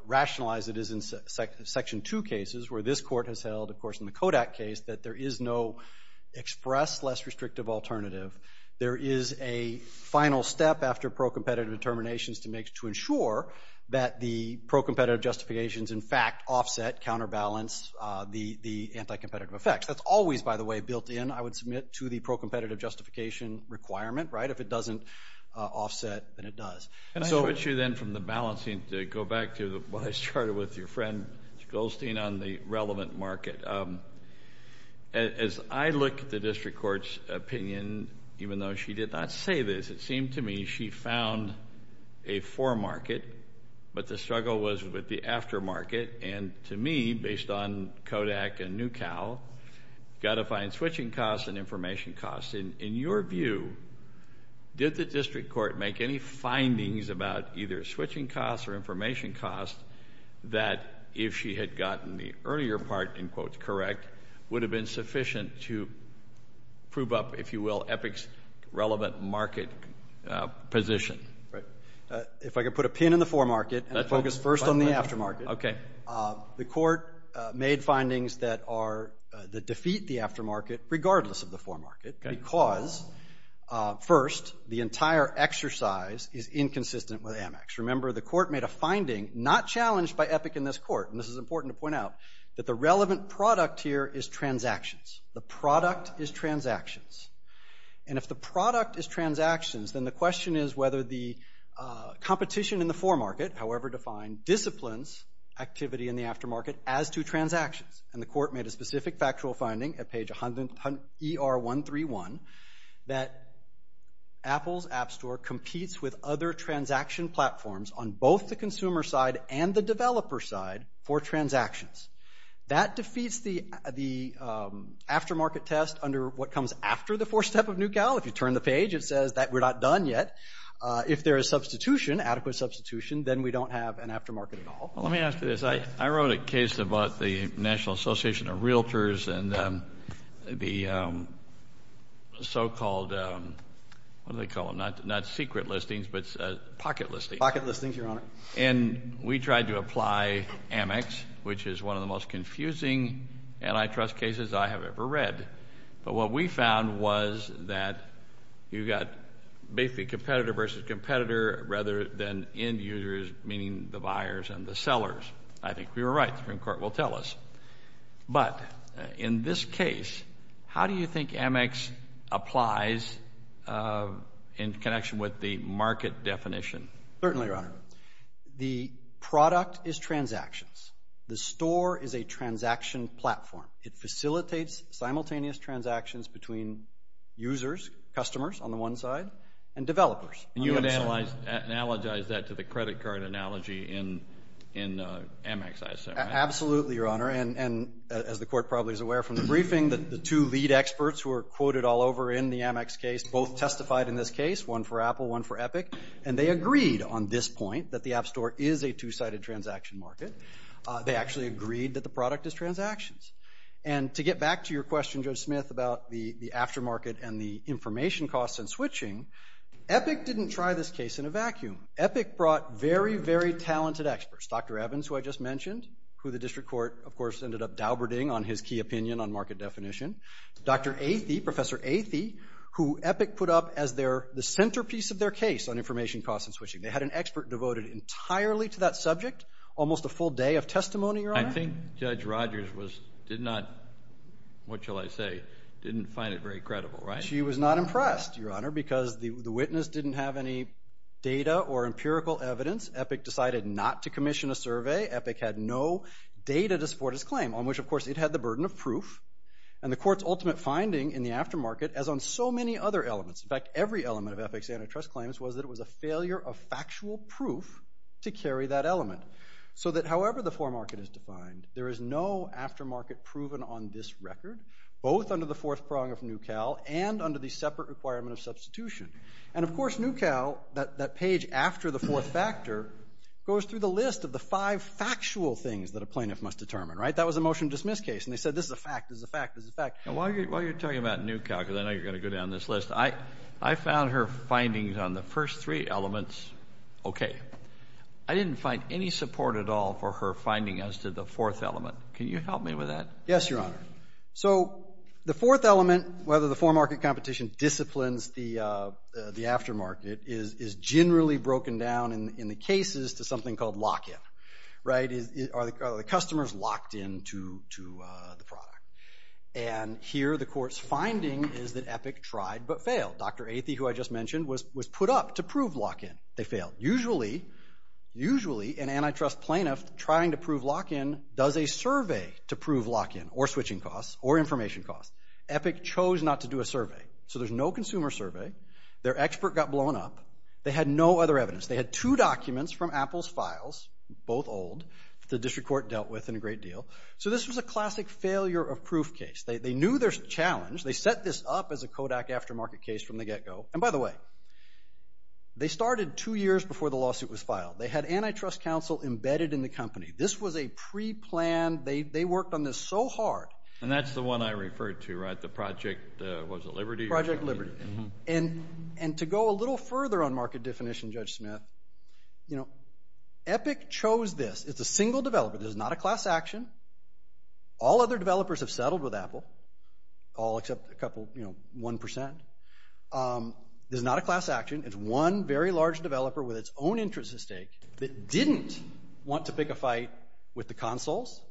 rationalize it is in Section 2 cases, where this Court has held, of course, in the Kodak case, that there is no express less restrictive alternative. There is a final step after pro-competitive determinations to ensure that the pro-competitive justifications, in fact, offset, counterbalance the anti-competitive effect. That's always, by the way, built in, I would submit, to the pro-competitive justification requirement, right? If it doesn't offset, then it does. And so what you then from the balancing, I'm going to go back to what I started with, your friend Goldstein on the relevant market. As I look at the District Court's opinion, even though she did not say this, it seemed to me she found a foremarket, but the struggle was with the aftermarket, and to me, based on Kodak and NuCal, got to find switching costs and information costs. In your view, did the District Court make any findings about either switching costs or information costs, that if she had gotten the earlier part, in quotes, correct, would have been sufficient to prove up, if you will, EPIC's relevant market position? Right. If I could put a pin in the foremarket and focus first on the aftermarket. Okay. The Court made findings that are, that defeat the aftermarket, regardless of the foremarket, because, first, the entire exercise is inconsistent with Amex. Remember, the Court made a finding, not challenged by EPIC in this Court, and this is important to point out, that the relevant product here is transactions. The product is transactions. And if the product is transactions, then the question is whether the competition in the foremarket, however defined, disciplines activity in the aftermarket as to transactions. And the Court made a specific factual finding at page ER131 that Apple's App Store competes with other transaction platforms on both the consumer side and the developer side for transactions. That defeats the aftermarket test under what comes after the fourth step of New Cal. If you turn the page, it says that we're not done yet. If there is substitution, adequate substitution, then we don't have an aftermarket at all. Let me ask you this. I wrote a case about the National Association of Realtors and the so-called, what do they call them, not secret listings, but pocket listings. Pocket listings, Your Honor. And we tried to apply Amex, which is one of the most confusing antitrust cases I have ever read. But what we found was that you've got basically competitor versus competitor rather than end users, meaning the buyers and the sellers. I think we were right. The Supreme Court will tell us. But in this case, how do you think Amex applies in connection with the market definition? Certainly, Your Honor. The product is transactions. The store is a transaction platform. It facilitates simultaneous transactions between users, customers on the one side, and developers. You would analogize that to the credit card analogy in Amex, I assume. Absolutely, Your Honor. And as the Court probably is aware from the briefing, the two lead experts who are quoted all over in the Amex case both testified in this case, one for Apple, one for Epic. And they agreed on this point, that the App Store is a two-sided transaction market. They actually agreed that the product is transactions. And to get back to your question, Judge Smith, about the aftermarket and the information costs and switching, Epic didn't try this case in a vacuum. Epic brought very, very talented experts. Dr. Evans, who I just mentioned, who the District Court, of course, ended up dauberting on his key opinion on market definition. Dr. Athey, Professor Athey, who Epic put up as the centerpiece of their case on information costs and switching. They had an expert devoted entirely to that subject, almost a full day of testimony, Your Honor. I think Judge Rogers did not, what shall I say, didn't find it very credible, right? She was not impressed, Your Honor, because the witness didn't have any data or empirical evidence. Epic decided not to commission a survey. Epic had no data to support its claim, on which, of course, it had the burden of proof. And the court's ultimate finding in the aftermarket, as on so many other elements, in fact, every element of Epic's antitrust claims, was that it was a failure of factual proof to carry that element. So that however the foremarket is defined, there is no aftermarket proven on this record, both under the fourth prong of New Cal and under the separate requirement of substitution. And, of course, New Cal, that page after the fourth factor, goes through the list of the five factual things that a plaintiff must determine, right? That was a motion to dismiss case, and they said this is a fact, this is a fact, this is a fact. And while you're talking about New Cal, because I know you're going to go down this list, I found her findings on the first three elements okay. I didn't find any support at all for her findings as to the fourth element. Can you help me with that? Yes, Your Honor. So the fourth element, whether the foremarket competition disciplines the aftermarket, is generally broken down in the cases to something called lock-in, right? Are the customers locked into the product? And here the court's finding is that Epic tried but failed. Dr. Athey, who I just mentioned, was put up to prove lock-in. They failed. Usually an antitrust plaintiff trying to prove lock-in does a survey to prove lock-in or switching costs or information costs. Epic chose not to do a survey. So there's no consumer survey. Their expert got blown up. They had no other evidence. They had two documents from Apple's files, both old, that the district court dealt with in a great deal. So this was a classic failure of proof case. They knew there was a challenge. They set this up as a Kodak aftermarket case from the get-go. And by the way, they started two years before the lawsuit was filed. They had antitrust counsel embedded in the company. This was a pre-planned, they worked on this so hard. And that's the one I referred to, right? The project, was it Liberty? Project Liberty. And to go a little further on market definition, Judge Smith, you know, Epic chose this. It's a single developer. There's not a class action. All other developers have settled with Apple. All except a couple, you know, 1%. There's not a class action. It's one very large developer with its own interests at stake that didn't want to pick a fight with the consoles,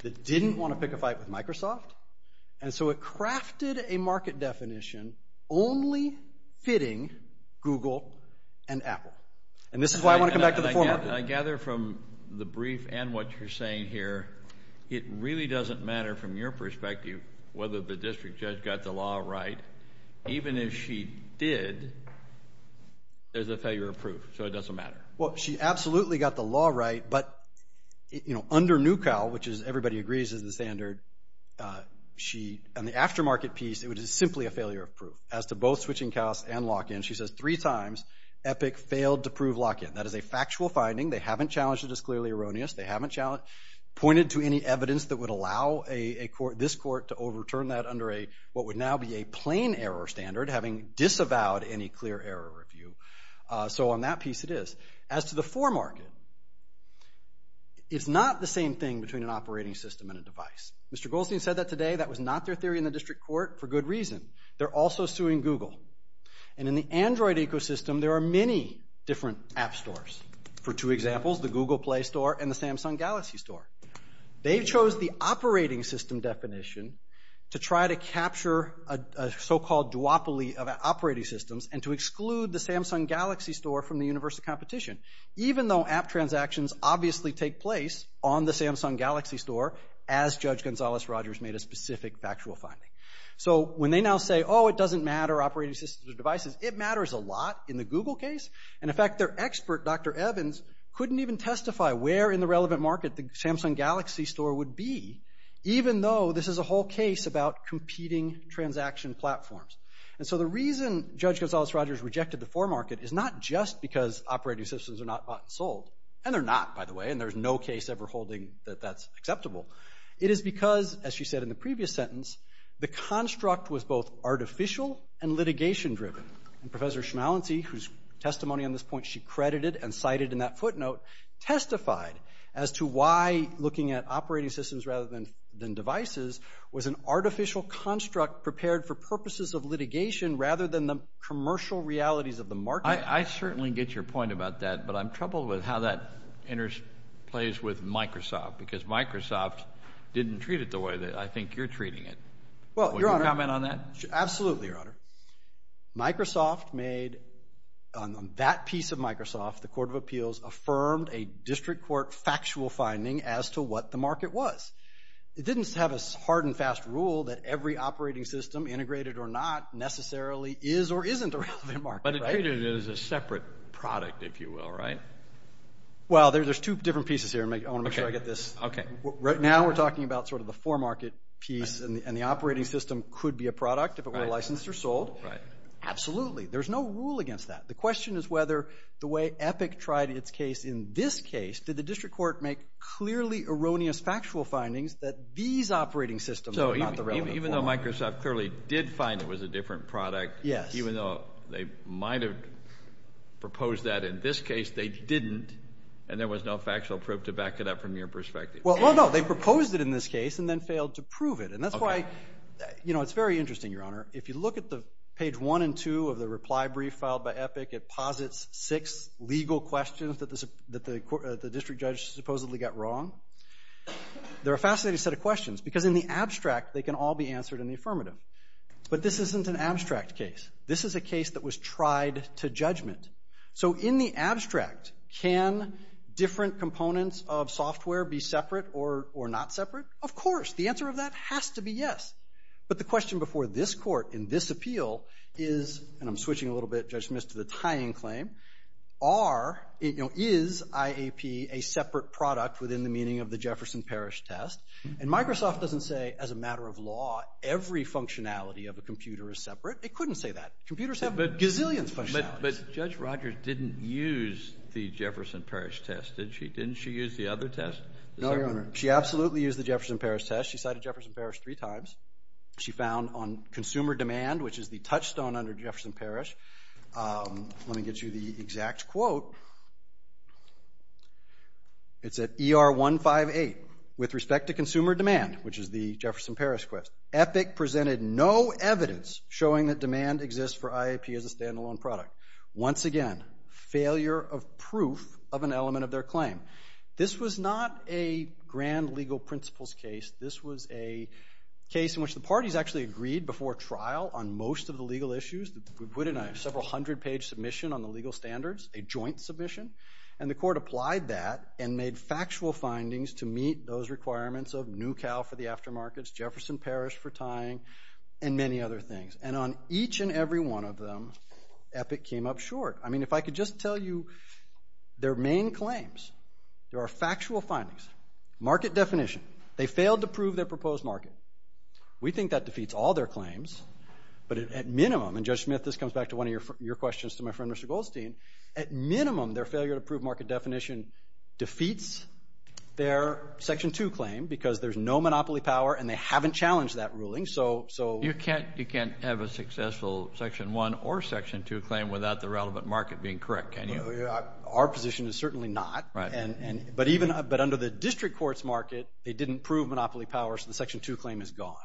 that didn't want to pick a fight with Microsoft. And so it crafted a market definition only fitting Google and Apple. And this is why I want to come back to the format. I gather from the brief and what you're saying here, it really doesn't matter from your perspective whether the district judge got the law right. Even if she did, there's a failure of proof. So it doesn't matter. Well, she absolutely got the law right. But, you know, under NUCAL, which is everybody agrees is the standard, on the aftermarket piece, it was simply a failure of proof. As to both switching costs and lock-in, she says three times Epic failed to prove lock-in. That is a factual finding. They haven't challenged it as clearly erroneous. They haven't pointed to any evidence that would allow this court to overturn that under what would now be a plain error standard, having disavowed any clear error review. So on that piece, it is. As to the foremarket, it's not the same thing between an operating system and a device. Mr. Goldstein said that today. That was not their theory in the district court for good reason. They're also suing Google. And in the Android ecosystem, there are many different app stores. For two examples, the Google Play Store and the Samsung Galaxy Store. They chose the operating system definition to try to capture a so-called duopoly of operating systems and to exclude the Samsung Galaxy Store from the universe of competition, even though app transactions obviously take place on the Samsung Galaxy Store as Judge Gonzales-Rogers made a specific factual finding. So when they now say, oh, it doesn't matter operating systems or devices, it matters a lot in the Google case. And in fact, their expert, Dr. Evans, couldn't even testify where in the relevant market the Samsung Galaxy Store would be, even though this is a whole case about competing transaction platforms. And so the reason Judge Gonzales-Rogers rejected the foremarket is not just because operating systems are not bought and sold, and they're not, by the way, and there's no case ever holding that that's acceptable. It is because, as she said in the previous sentence, the construct was both artificial and litigation-driven. And Professor Schmalensee, whose testimony on this point she credited and cited in that footnote, testified as to why looking at operating systems rather than devices was an artificial construct prepared for purposes of litigation rather than the commercial realities of the market. I certainly get your point about that, but I'm troubled with how that interplays with Microsoft because Microsoft didn't treat it the way that I think you're treating it. Will you comment on that? Absolutely, Your Honor. Microsoft made, on that piece of Microsoft, the Court of Appeals affirmed a district court factual finding as to what the market was. It didn't have a hard and fast rule that every operating system, integrated or not, necessarily is or isn't a relevant market. But it treated it as a separate product, if you will, right? Well, there's two different pieces here. I want to make sure I get this. Right now we're talking about sort of the for-market piece, and the operating system could be a product if it were licensed or sold. Absolutely. There's no rule against that. The question is whether the way Epic tried its case in this case, did the district court make clearly erroneous factual findings that these operating systems are not the relevant market. Even though Microsoft clearly did find it was a different product, even though they might have proposed that in this case, they didn't, and there was no factual proof to back it up from your perspective. Well, no, they proposed it in this case and then failed to prove it. And that's why, you know, it's very interesting, Your Honor. If you look at page 1 and 2 of the reply brief filed by Epic, it posits six legal questions that the district judge supposedly got wrong. They're a fascinating set of questions because in the abstract they can all be answered in the affirmative. But this isn't an abstract case. This is a case that was tried to judgment. So in the abstract, can different components of software be separate or not separate? Of course. The answer of that has to be yes. But the question before this court in this appeal is, and I'm switching a little bit, Judge, Mr., the tying claim, is IAP a separate product within the meaning of the Jefferson Parish test? And Microsoft doesn't say, as a matter of law, every functionality of a computer is separate. It couldn't say that. Computers have gazillions of functionalities. But Judge Rogers didn't use the Jefferson Parish test, did she? Didn't she use the other test? No, Your Honor. She absolutely used the Jefferson Parish test. She cited Jefferson Parish three times. She found on consumer demand, which is the touchstone under Jefferson Parish, let me get you the exact quote. It's at ER 158. With respect to consumer demand, which is the Jefferson Parish quiz, Epic presented no evidence showing that demand exists for IAP as a standalone product. Once again, failure of proof of an element of their claim. This was not a grand legal principles case. This was a case in which the parties actually agreed before trial on most of the legal issues. We put in a several hundred-page submission on the legal standards, a joint submission, and the court applied that and made factual findings to meet those requirements of new cow for the aftermarkets, Jefferson Parish for tying, and many other things. And on each and every one of them, Epic came up short. I mean, if I could just tell you their main claims. There are factual findings. Market definition. They failed to prove their proposed market. We think that defeats all their claims, but at minimum, and Judge Smith, this comes back to one of your questions to my friend Mr. Goldstein, at minimum, their failure to prove market definition defeats their Section 2 claim because there's no monopoly power and they haven't challenged that ruling. So... You can't have a successful Section 1 or Section 2 claim without the relevant market being correct, can you? Our position is certainly not. But under the district court's market, they didn't prove monopoly power, so the Section 2 claim is gone.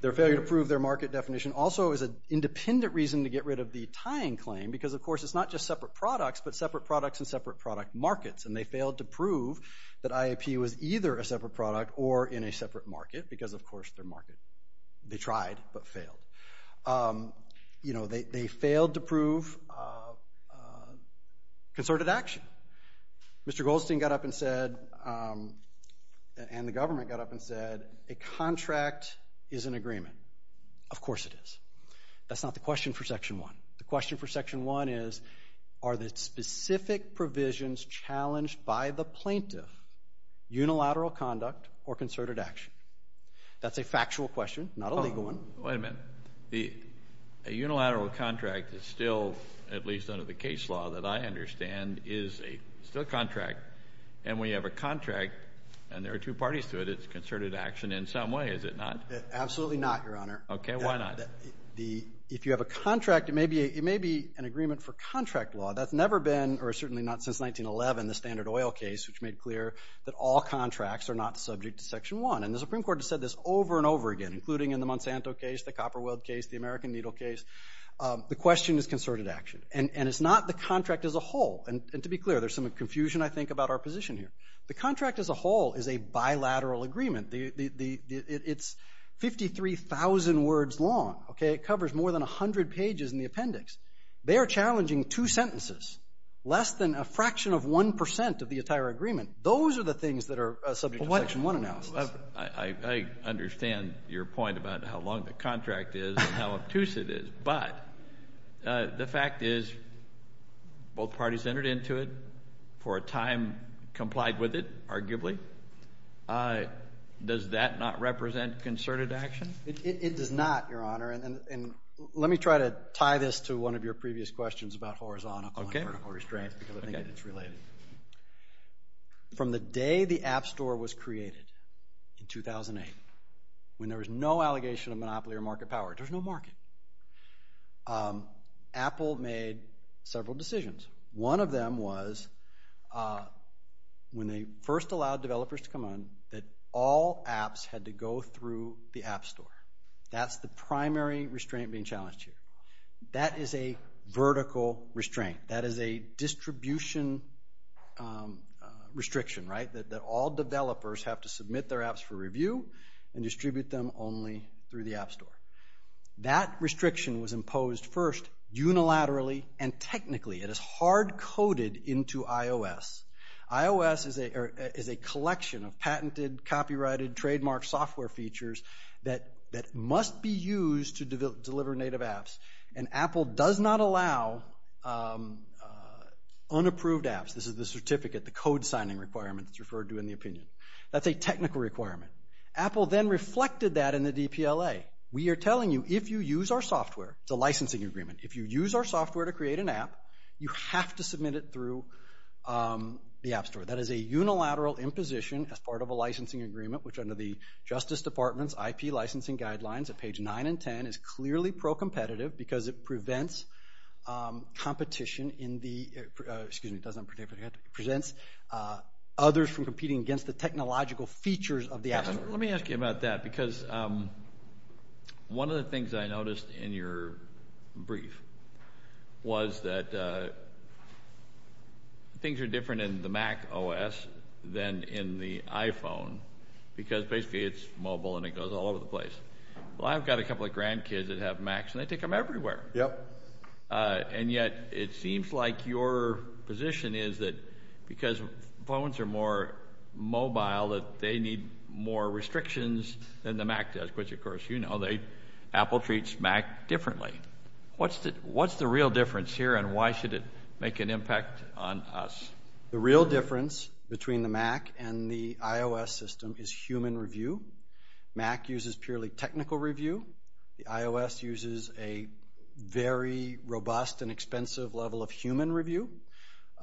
Their failure to prove their market definition also is an independent reason to get rid of the tying claim because, of course, it's not just separate products, but separate products in separate product markets, and they failed to prove that IAP was either a separate product or in a separate market because, of course, their market... they tried but failed. You know, they failed to prove... concerted action. Mr. Goldstein got up and said... and the government got up and said, a contract is an agreement. Of course it is. That's not the question for Section 1. The question for Section 1 is, are the specific provisions challenged by the plaintiff unilateral conduct or concerted action? That's a factual question, not a legal one. Wait a minute. A unilateral contract is still, at least under the case law that I understand, is still a contract, and we have a contract, and there are two parties to it. It's concerted action in some way, is it not? Absolutely not, Your Honor. Okay, why not? If you have a contract, it may be an agreement for contract law. That's never been, or certainly not since 1911, the Standard Oil case, which made clear that all contracts are not subject to Section 1, and the Supreme Court has said this over and over again, including in the Monsanto case, the Copper World case, the American Needle case. The question is concerted action, and it's not the contract as a whole. And to be clear, there's some confusion, I think, about our position here. The contract as a whole is a bilateral agreement. It's 53,000 words long, okay? It covers more than 100 pages in the appendix. They are challenging two sentences, less than a fraction of 1% of the entire agreement. Those are the things that are subject to Section 1 analysis. I understand your point about how long the contract is and how obtuse it is, but the fact is both parties entered into it for a time complied with it, arguably. Does that not represent concerted action? It does not, Your Honor, and let me try to tie this to one of your previous questions about horizontal and vertical restraint, because I think it's related. From the day the App Store was created in 2008, when there was no allegation of monopoly or market power, there's no market, Apple made several decisions. One of them was, when they first allowed developers to come on, that all apps had to go through the App Store. That's the primary restraint being challenged here. That is a vertical restraint. That is a distribution restriction, right, that all developers have to submit their apps for review and distribute them only through the App Store. That restriction was imposed first unilaterally and technically. It is hard-coded into iOS. iOS is a collection of patented, copyrighted, trademarked software features that must be used to deliver native apps, and Apple does not allow unapproved apps. This is the certificate, the code signing requirement that's referred to in the opinion. That's a technical requirement. Apple then reflected that in the DPLA. We are telling you, if you use our software, it's a licensing agreement, if you use our software to create an app, you have to submit it through the App Store. That is a unilateral imposition as part of a licensing agreement, which under the Justice Department's IP licensing guidelines at page 9 and 10 is clearly pro-competitive because it prevents competition in the, excuse me, it doesn't present others from competing against the technological features of the App Store. Let me ask you about that because one of the things I noticed in your brief was that things are different in the Mac OS than in the iPhone because basically it's mobile and it goes all over the place. Well, I've got a couple of grandkids that have Macs and they take them everywhere. Yep. And yet, it seems like your position is that because phones are more mobile, that they need more restrictions than the Mac does because, of course, you know, Apple treats Mac differently. What's the real difference here and why should it make an impact on us? The real difference between the Mac and the iOS system is human review. Mac uses purely technical review. The iOS uses a very robust and expensive level of human review.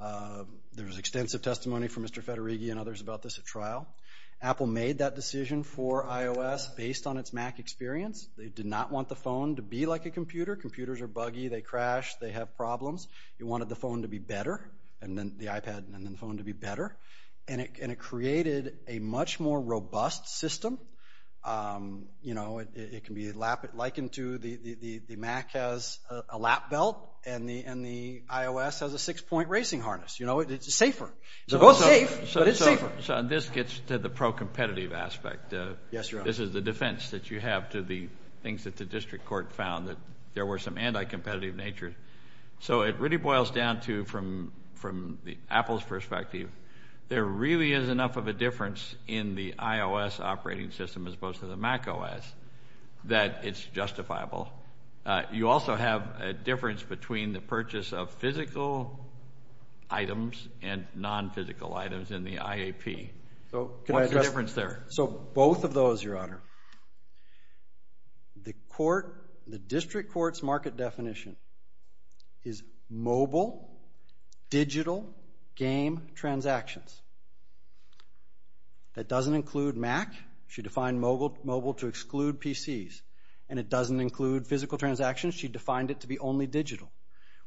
There was extensive testimony from Mr. Federighi and others about this at trial. Apple made that decision for iOS based on its Mac experience. They did not want the phone to be like a computer. Computers are buggy. They crash. They have problems. They wanted the phone to be better and then the iPad and then the phone to be better and it created a much more robust system. You know, it can be likened to the Mac has a lap belt and the iOS has a six-point racing harness. You know, it's safer. So this gets to the pro-competitive aspect. This is the defense that you have to the things that the district court found that there were some anti-competitive natures. So it really boils down to, from Apple's perspective, there really is enough of a difference in the iOS operating system as opposed to the Mac OS that it's justifiable. You also have a difference between the purchase of physical items and non-physical items in the IAP. What's the difference there? So both of those, Your Honor. The court, the district court's market definition is mobile, digital game transactions. That doesn't include Mac. She defined mobile to exclude PCs and it doesn't include physical transactions. She defined it to be only digital.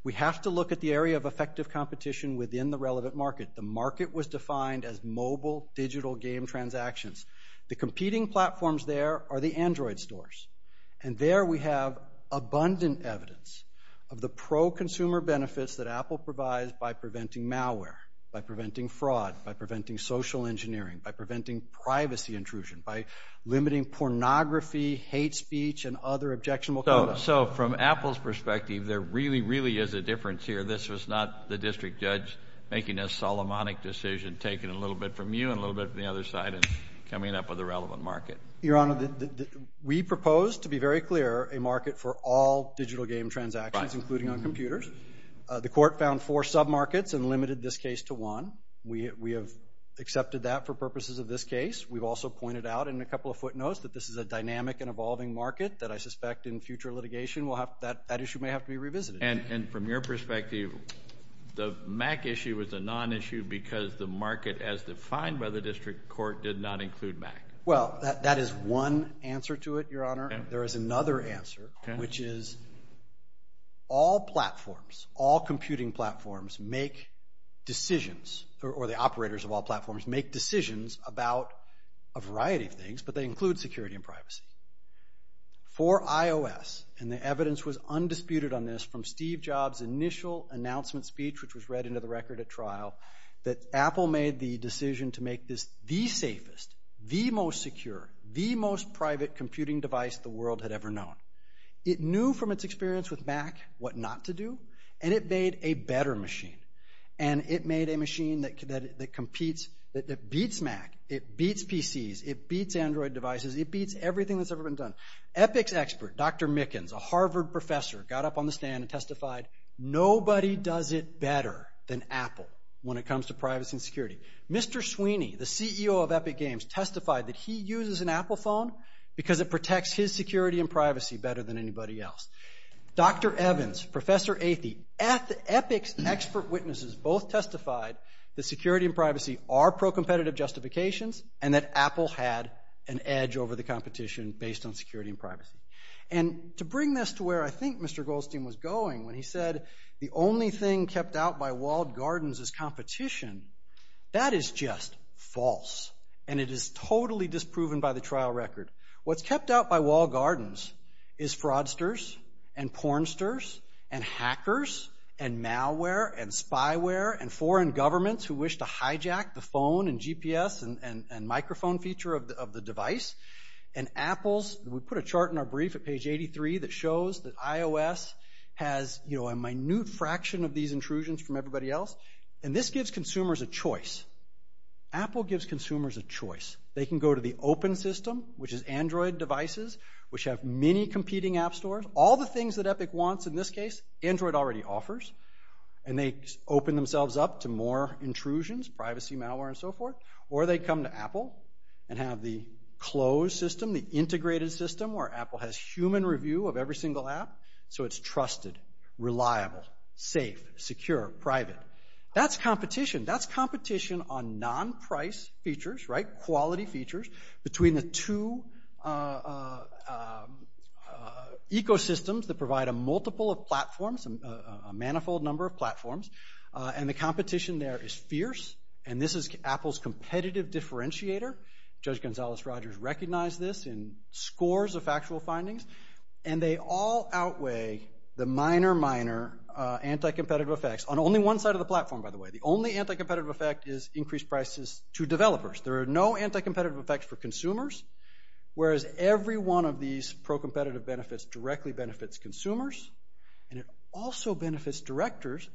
We have to look at the area of effective competition within the relevant market. The market was defined as mobile, digital game transactions. The competing platforms there are the Android stores. And there we have abundant evidence of the pro-consumer benefits that Apple provides by preventing malware, by preventing fraud, by preventing social engineering, by preventing privacy intrusion, by limiting pornography, hate speech, and other objectionable content. So from Apple's perspective, there really, really is a difference here. This was not the district judge making a Solomonic decision, taking a little bit from you and a little bit from the other side and coming up with a relevant market. Your Honor, we propose, to be very clear, a market for all digital game transactions, including on computers. The court found four sub-markets and limited this case to one. We have accepted that for purposes of this case. We've also pointed out in a couple of footnotes that this is a dynamic and evolving market that I suspect in future litigation that issue may have to be revisited. And from your perspective, the Mac issue was a non-issue because the market as defined by the district court did not include Mac. Well, that is one answer to it, Your Honor. There is another answer, which is all platforms, all computing platforms make decisions, or the operators of all platforms make decisions about a variety of things, but they include security and privacy. For iOS, and the evidence was undisputed on this from Steve Jobs' initial announcement speech, which was read into the record at trial, that Apple made the decision to make this the safest, the most secure, the most private computing device the world had ever known. It knew from its experience with Mac what not to do, and it made a better machine. And it made a machine that competes, that beats Mac, it beats PCs, it beats Android devices, it beats everything that's ever been done. Epics expert, Dr. Mickens, a Harvard professor, got up on the stand and testified, nobody does it better than Apple when it comes to privacy and security. Mr. Sweeney, the CEO of Epic Games, testified that he uses an Apple phone because it protects his security and privacy better than anybody else. Dr. Evans, Professor Athey, Epic expert witnesses both testified that security and privacy are pro-competitive justifications and that Apple had an edge over the competition based on security and privacy. And to bring this to where I think Mr. Goldstein was going when he said the only thing kept out by walled gardens is competition, that is just false. And it is totally disproven by the trial record. What's kept out by walled gardens is fraudsters and pornsters and hackers and malware and spyware and foreign governments who wish to hijack the phone and GPS and microphone feature of the device. And Apple, we put a chart in our brief at page 83 that shows that iOS has a minute fraction of these intrusions from everybody else. And this gives consumers a choice. Apple gives consumers a choice. They can go to the open system, which is Android devices, which have many competing app stores. All the things that Epic wants in this case, Android already offers. And they open themselves up to more intrusions, privacy, malware, and so forth. Or they come to Apple and have the closed system, the integrated system, where Apple has human review of every single app, so it's trusted, reliable, safe, secure, private. That's competition. That's competition on non-price features, right, quality features, between the two ecosystems that provide a multiple of platforms, a manifold number of platforms. And the competition there is fierce. And this is Apple's competitive differentiator. Judge Gonzales-Rogers recognized this in scores of factual findings. And they all outweigh the minor, minor anti-competitive effects. On only one side of the platform, by the way. The only anti-competitive effect is increased prices to developers. There are no anti-competitive effects for consumers, whereas every one of these pro-competitive benefits directly benefits consumers. And it also benefits developers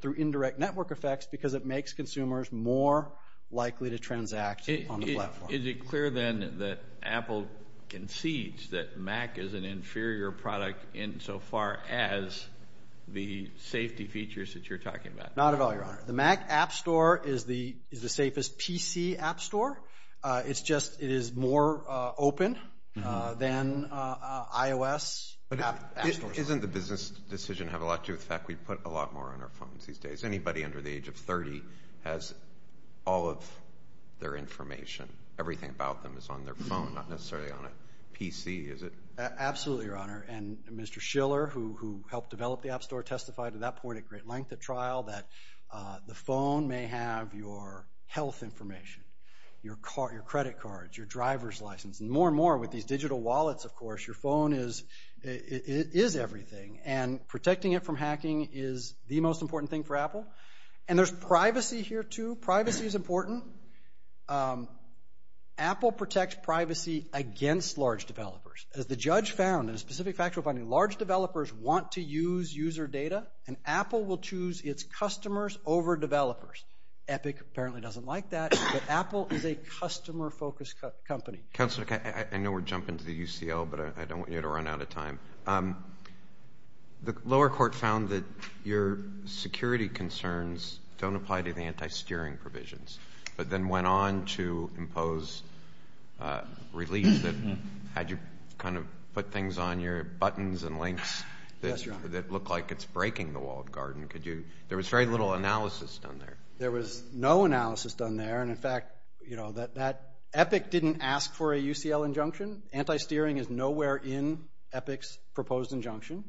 through indirect network effects because it makes consumers more likely to transact on the platform. Is it clear, then, that Apple concedes that Mac is an inferior product insofar as the safety features that you're talking about? Not at all, Your Honor. The Mac App Store is the safest PC app store. It's just, it is more open than iOS app stores. Isn't the business decision have a lot to affect? We put a lot more on our phone these days. Anybody under the age of 30 has all of their information, everything about them is on their phone, not necessarily on a PC, is it? Absolutely, Your Honor. And Mr. Schiller, who helped develop the app store, testified at that point at great length at trial that the phone may have your health information, your credit cards, your driver's license, and more and more with these digital wallets, of course, your phone is everything. And protecting it from hacking is the most important thing for Apple. And there's privacy here, too. Privacy is important. Apple protects privacy against large developers. The judge found, a specific factual finding, large developers want to use user data, and Apple will choose its customers over developers. Epic apparently doesn't like that, but Apple is a customer-focused company. Counselor, I know we're jumping to the UCL, but I don't want you to run out of time. The lower court found that your security concerns don't apply to the anti-steering provisions, but then went on to impose relief that had you kind of put things on your buttons and links that look like it's breaking the walled garden. Could you... There was very little analysis done there. There was no analysis done there, and in fact, you know, that Epic didn't ask for a UCL injunction. Anti-steering is nowhere in Epic's proposed injunction.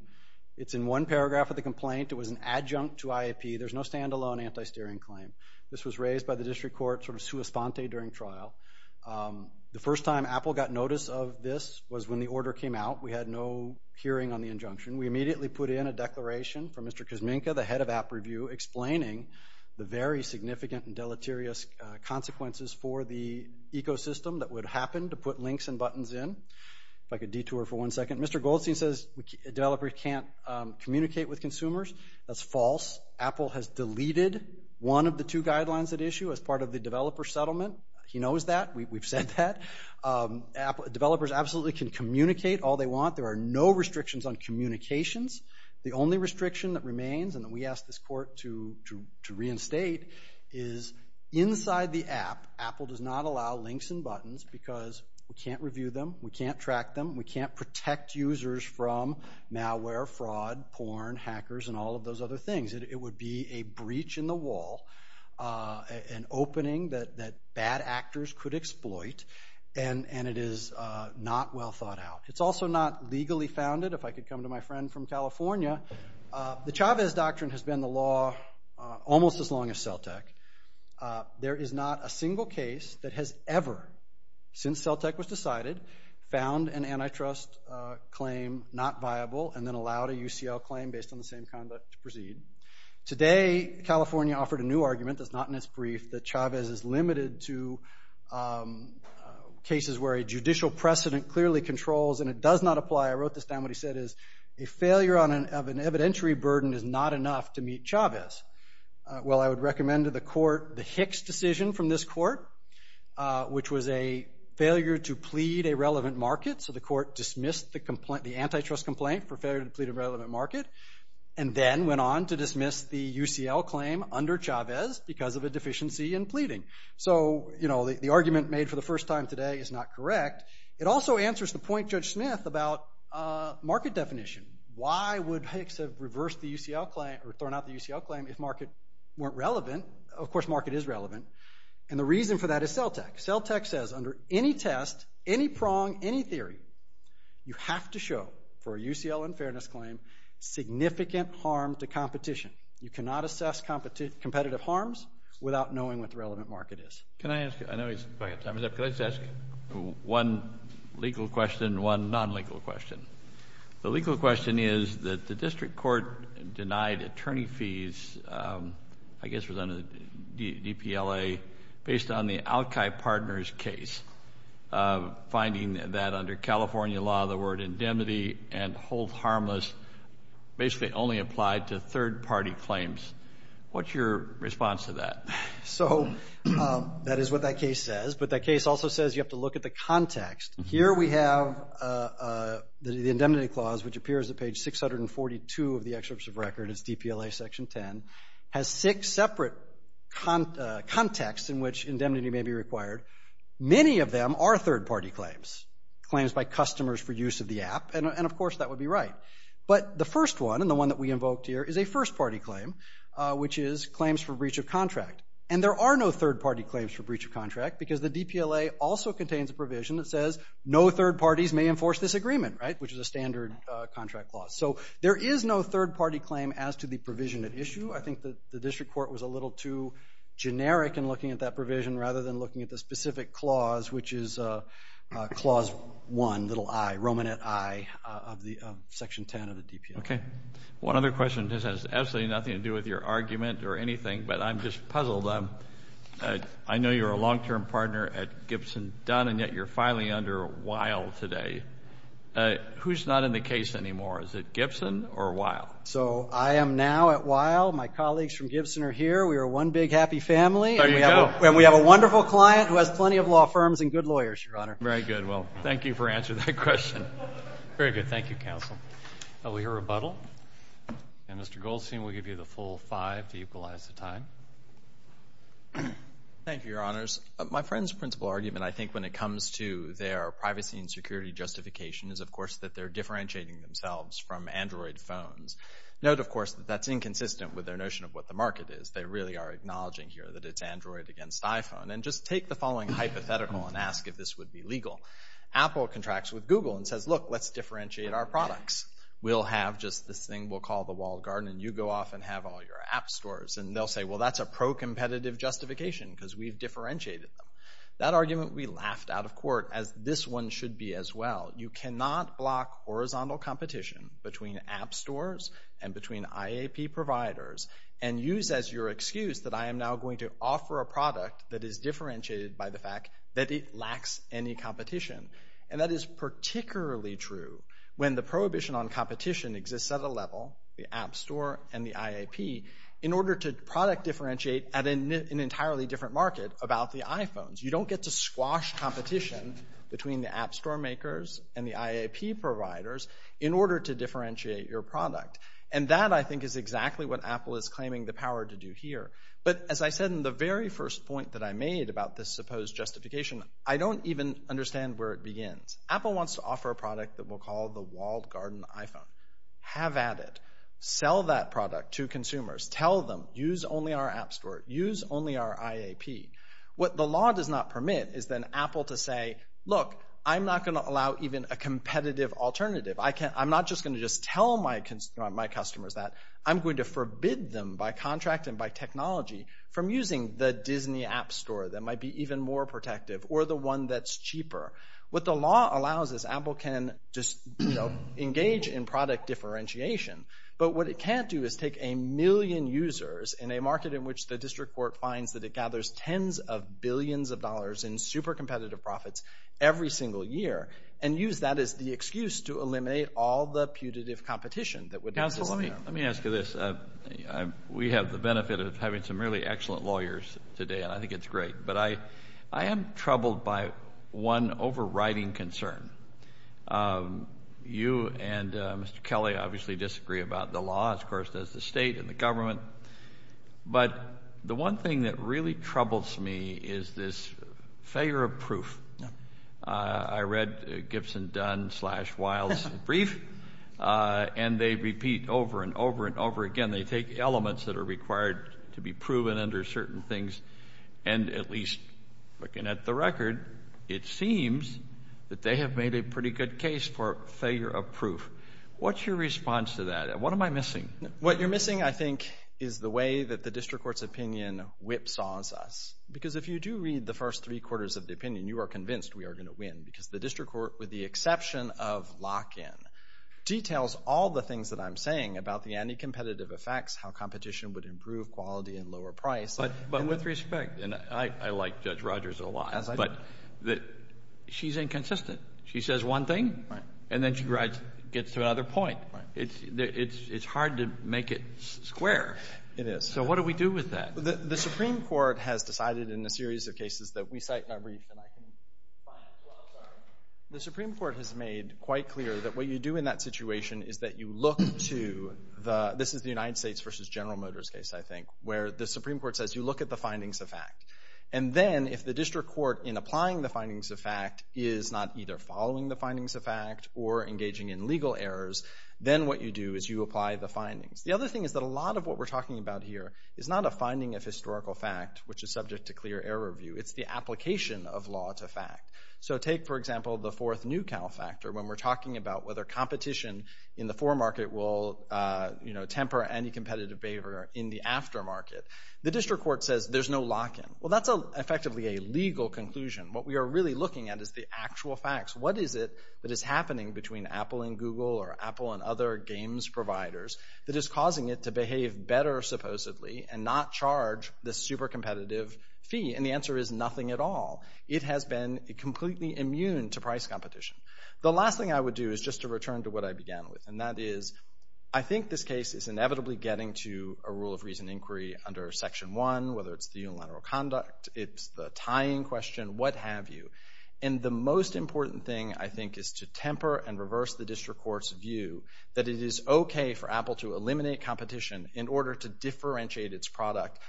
It's in one paragraph of the complaint. It was an adjunct to IAP. There's no standalone anti-steering claim. This was raised by the district court sort of sua sponte during trial. The first time Apple got notice of this was when the order came out. We had no hearing on the injunction. We immediately put in a declaration from Mr. Kuzminka, the head of AppReview, explaining the very significant and deleterious consequences for the ecosystem that would happen to put links and buttons in. If I could detour for one second. Mr. Goldstein says developers can't communicate with consumers. That's false. Apple has deleted one of the two guidelines at issue as part of the developer settlement. He knows that. We've said that. Developers absolutely can communicate all they want. There are no restrictions on communications. The only restriction that remains, and that we asked the court to reinstate, is inside the app, Apple does not allow links and buttons because we can't review them, we can't track them, we can't protect users from malware, fraud, porn, hackers, and all of those other things. It would be a breach in the wall, an opening that bad actors could exploit, and it is not well thought out. It's also not legally founded, if I could come to my friend from California. The Chavez Doctrine has been the law almost as long as Celtic. There is not a single case that has ever, since Celtic was decided, found an antitrust claim not viable and then allowed a UCL claim based on the same conduct to proceed. Today, California offered a new argument, that's not in its brief, that Chavez is limited to cases where a judicial precedent clearly controls, and it does not apply. I wrote this down, what he said is, a failure of an evidentiary burden is not enough to meet Chavez. Well, I would recommend to the court, the Hicks decision from this court, which was a failure to plead a relevant market, so the court dismissed the antitrust complaint for failure to plead a relevant market, and then went on to dismiss the UCL claim under Chavez because of a deficiency in pleading. So, the argument made for the first time today is not correct. It also answers the point Judge Smith about market definition. Why would Hicks have reversed the UCL claim, or thrown out the UCL claim if market weren't relevant? Of course, market is relevant, and the reason for that is CELTEC. CELTEC says under any test, any prong, any theory, you have to show for a UCL unfairness claim significant harm to competition. You cannot assess competitive harms without knowing what the relevant market is. Can I ask you, I know he's, go ahead Thomas, can I just ask you one legal question and one non-legal question? The legal question is that the district court denied attorney fees, I guess it was under the DPLA, based on the Alki Partners case, finding that under California law, the word indemnity and hold harmless basically only applied to third party claims. What's your response to that? So, that is what that case says, but that case also says you have to look at the context. Here we have the indemnity clause, which appears at page 642 of the excerpt of record, it's DPLA section 10, has six separate contexts in which indemnity may be required. Many of them are third party claims, claims by customers for use of the app, and of course that would be right. But the first one, and the one that we invoked here, is a first party claim, which is claims for breach of contract. because the DPLA also contains a provision that says no third parties may enforce this agreement, which is a standard contract clause. So, there is no third party claim as to the provision at issue. I think the district court was a little too generic in looking at that provision rather than looking at the specific clause, which is clause one, little I, Romanet I of section 10 of the DPLA. Okay. One other question, this has absolutely nothing to do with your argument or anything, but I'm just puzzled. I know you're a long term partner at Gibson Dunn, and yet you're filing under Weill today. Who's not in the case anymore? Is it Gibson or Weill? So, I am now at Weill. My colleagues from Gibson are here. We are one big happy family. There you go. And we have a wonderful client who has plenty of law firms and good lawyers, Your Honor. Very good. Well, thank you for answering that question. Very good. Thank you, counsel. We'll hear rebuttal. And Mr. Goldstein will give you the full five to equalize the time. Thank you, Your Honors. My friend's principle argument, and I think when it comes to their privacy and security justification, is of course that they're differentiating themselves from Android phones. Note, of course, that that's inconsistent with their notion of what the market is. They really are acknowledging here that it's Android against iPhone. And just take the following hypothetical and ask if this would be legal. Apple contracts with Google and says, look, let's differentiate our products. We'll have just this thing we'll call the walled garden, and you go off and have all your app stores. And they'll say, well, that's a pro-competitive justification because we've differentiated them. That argument we laughed out of court as this one should be as well. You cannot block horizontal competition between app stores and between IAP providers and use as your excuse that I am now going to offer a product that is differentiated by the fact that it lacks any competition. And that is particularly true when the prohibition on competition exists at a level, the app store and the IAP, in order to product differentiate at an entirely different market about the iPhones. You don't get to squash competition between the app store makers and the IAP providers in order to differentiate your product. And that, I think, is exactly what Apple is claiming the power to do here. But as I said in the very first point that I made about this supposed justification, I don't even understand where it begins. Apple wants to offer a product that we'll call the walled garden iPhone. Have at it. Sell that product to consumers. Tell them, use only our app store. Use only our IAP. What the law does not permit is then Apple to say, look, I'm not going to allow even a competitive alternative. I'm not just going to just tell my customers that I'm going to forbid them by contract and by technology from using the Disney app store that might be even more protective or the one that's cheaper. What the law allows is Apple can engage in product differentiation. But what it can't do is take a million users in a market in which the district court finds that it gathers tens of billions of dollars in super competitive profits every single year and use that as the excuse to eliminate all the putative competition that would be available. Counsel, let me ask you this. We have the benefit of having some really excellent lawyers today, and I think it's great. But I am troubled by one overriding concern. You and Mr. Kelly obviously disagree about the law. Of course, there's the state and the government. But the one thing that really troubles me is this failure of proof. I read Gibson, Dunn, Slash, Wiles' brief, and they repeat over and over and over again. They take elements that are required to be proven under certain things and at least looking at the record, it seems that they have made a pretty good case for failure of proof. What's your response to that? What am I missing? What you're missing, I think, is the way that the district court's opinion whipsaws us. Because if you do read the first three quarters of the opinion, you are convinced we are going to win because the district court, with the exception of lock-in, details all the things that I'm saying about the anti-competitive effects, how competition would improve quality and lower price. But with respect, and I like Judge Rogers a lot, but she's inconsistent. She says one thing, and then she gets to another point. It's hard to make it square. So what do we do with that? The Supreme Court has decided in a series of cases that we cite, not read. The Supreme Court has made quite clear that what you do in that situation is that you look to the, this is the United States v. General Motors case, I think, where the Supreme Court says you look at the findings of fact. And then, if the district court, in applying the findings of fact, is not either following the findings of fact or engaging in legal errors, then what you do is you apply the finding. The other thing is that a lot of what we're talking about here is not a finding of historical fact, which is subject to clear error review. It's the application of law to fact. So take, for example, the fourth Newcal factor, when we're talking about whether competition in the foremarket will temper anti-competitive behavior in the aftermarket. The district court says there's no lock-in. Well, that's effectively a legal conclusion. What we are really looking at is the actual facts. What is it that is happening between Apple and Google or Apple and other games providers that is causing it to behave better, supposedly, and not charge the super competitive fee? And the answer is nothing at all. It has been completely immune to price competition. The last thing I would do is just to return to what I began with, and that is I think this case is inevitably getting to a rule of reason inquiry under Section 1, whether it's the unilateral conduct, it's the tying question, what have you. And the most important thing, I think, is to temper and reverse the district court's view that it is okay for Apple to eliminate competition in order to differentiate its product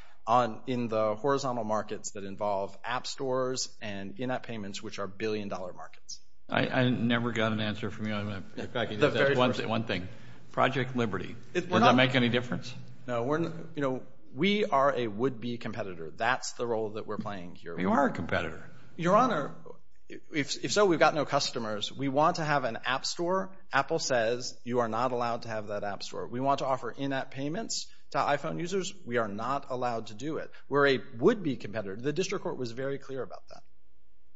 in the horizontal markets that involve app stores and in-app payments, which are billion-dollar markets. I never got an answer from you on that. If I could, that's one thing. Project Liberty, does that make any difference? No. You know, we are a would-be competitor. That's the role that we're playing here. You are a competitor. Your Honor, if so, we've got no customers. We want to have an app store. Apple says you are not allowed to have that app store. We want to offer in-app payments to iPhone users. We are not allowed to do it. We're a would-be competitor. The district court was very clear about that.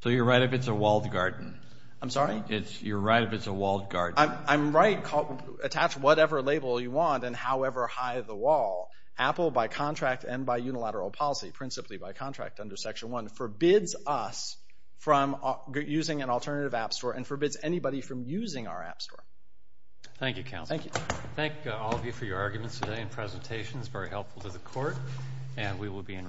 So you're right if it's a walled garden. I'm sorry? You're right if it's a walled garden. I'm right. You can attach whatever label you want and however high the wall. Apple, by contract and by unilateral policy, principally by contract under Section 1, forbids us from using an alternative app store and forbids anybody from using our app store. Thank you, Counsel. Thank you. Thank all of you for your arguments today and presentations. Very helpful to the Court. And we will be in recess.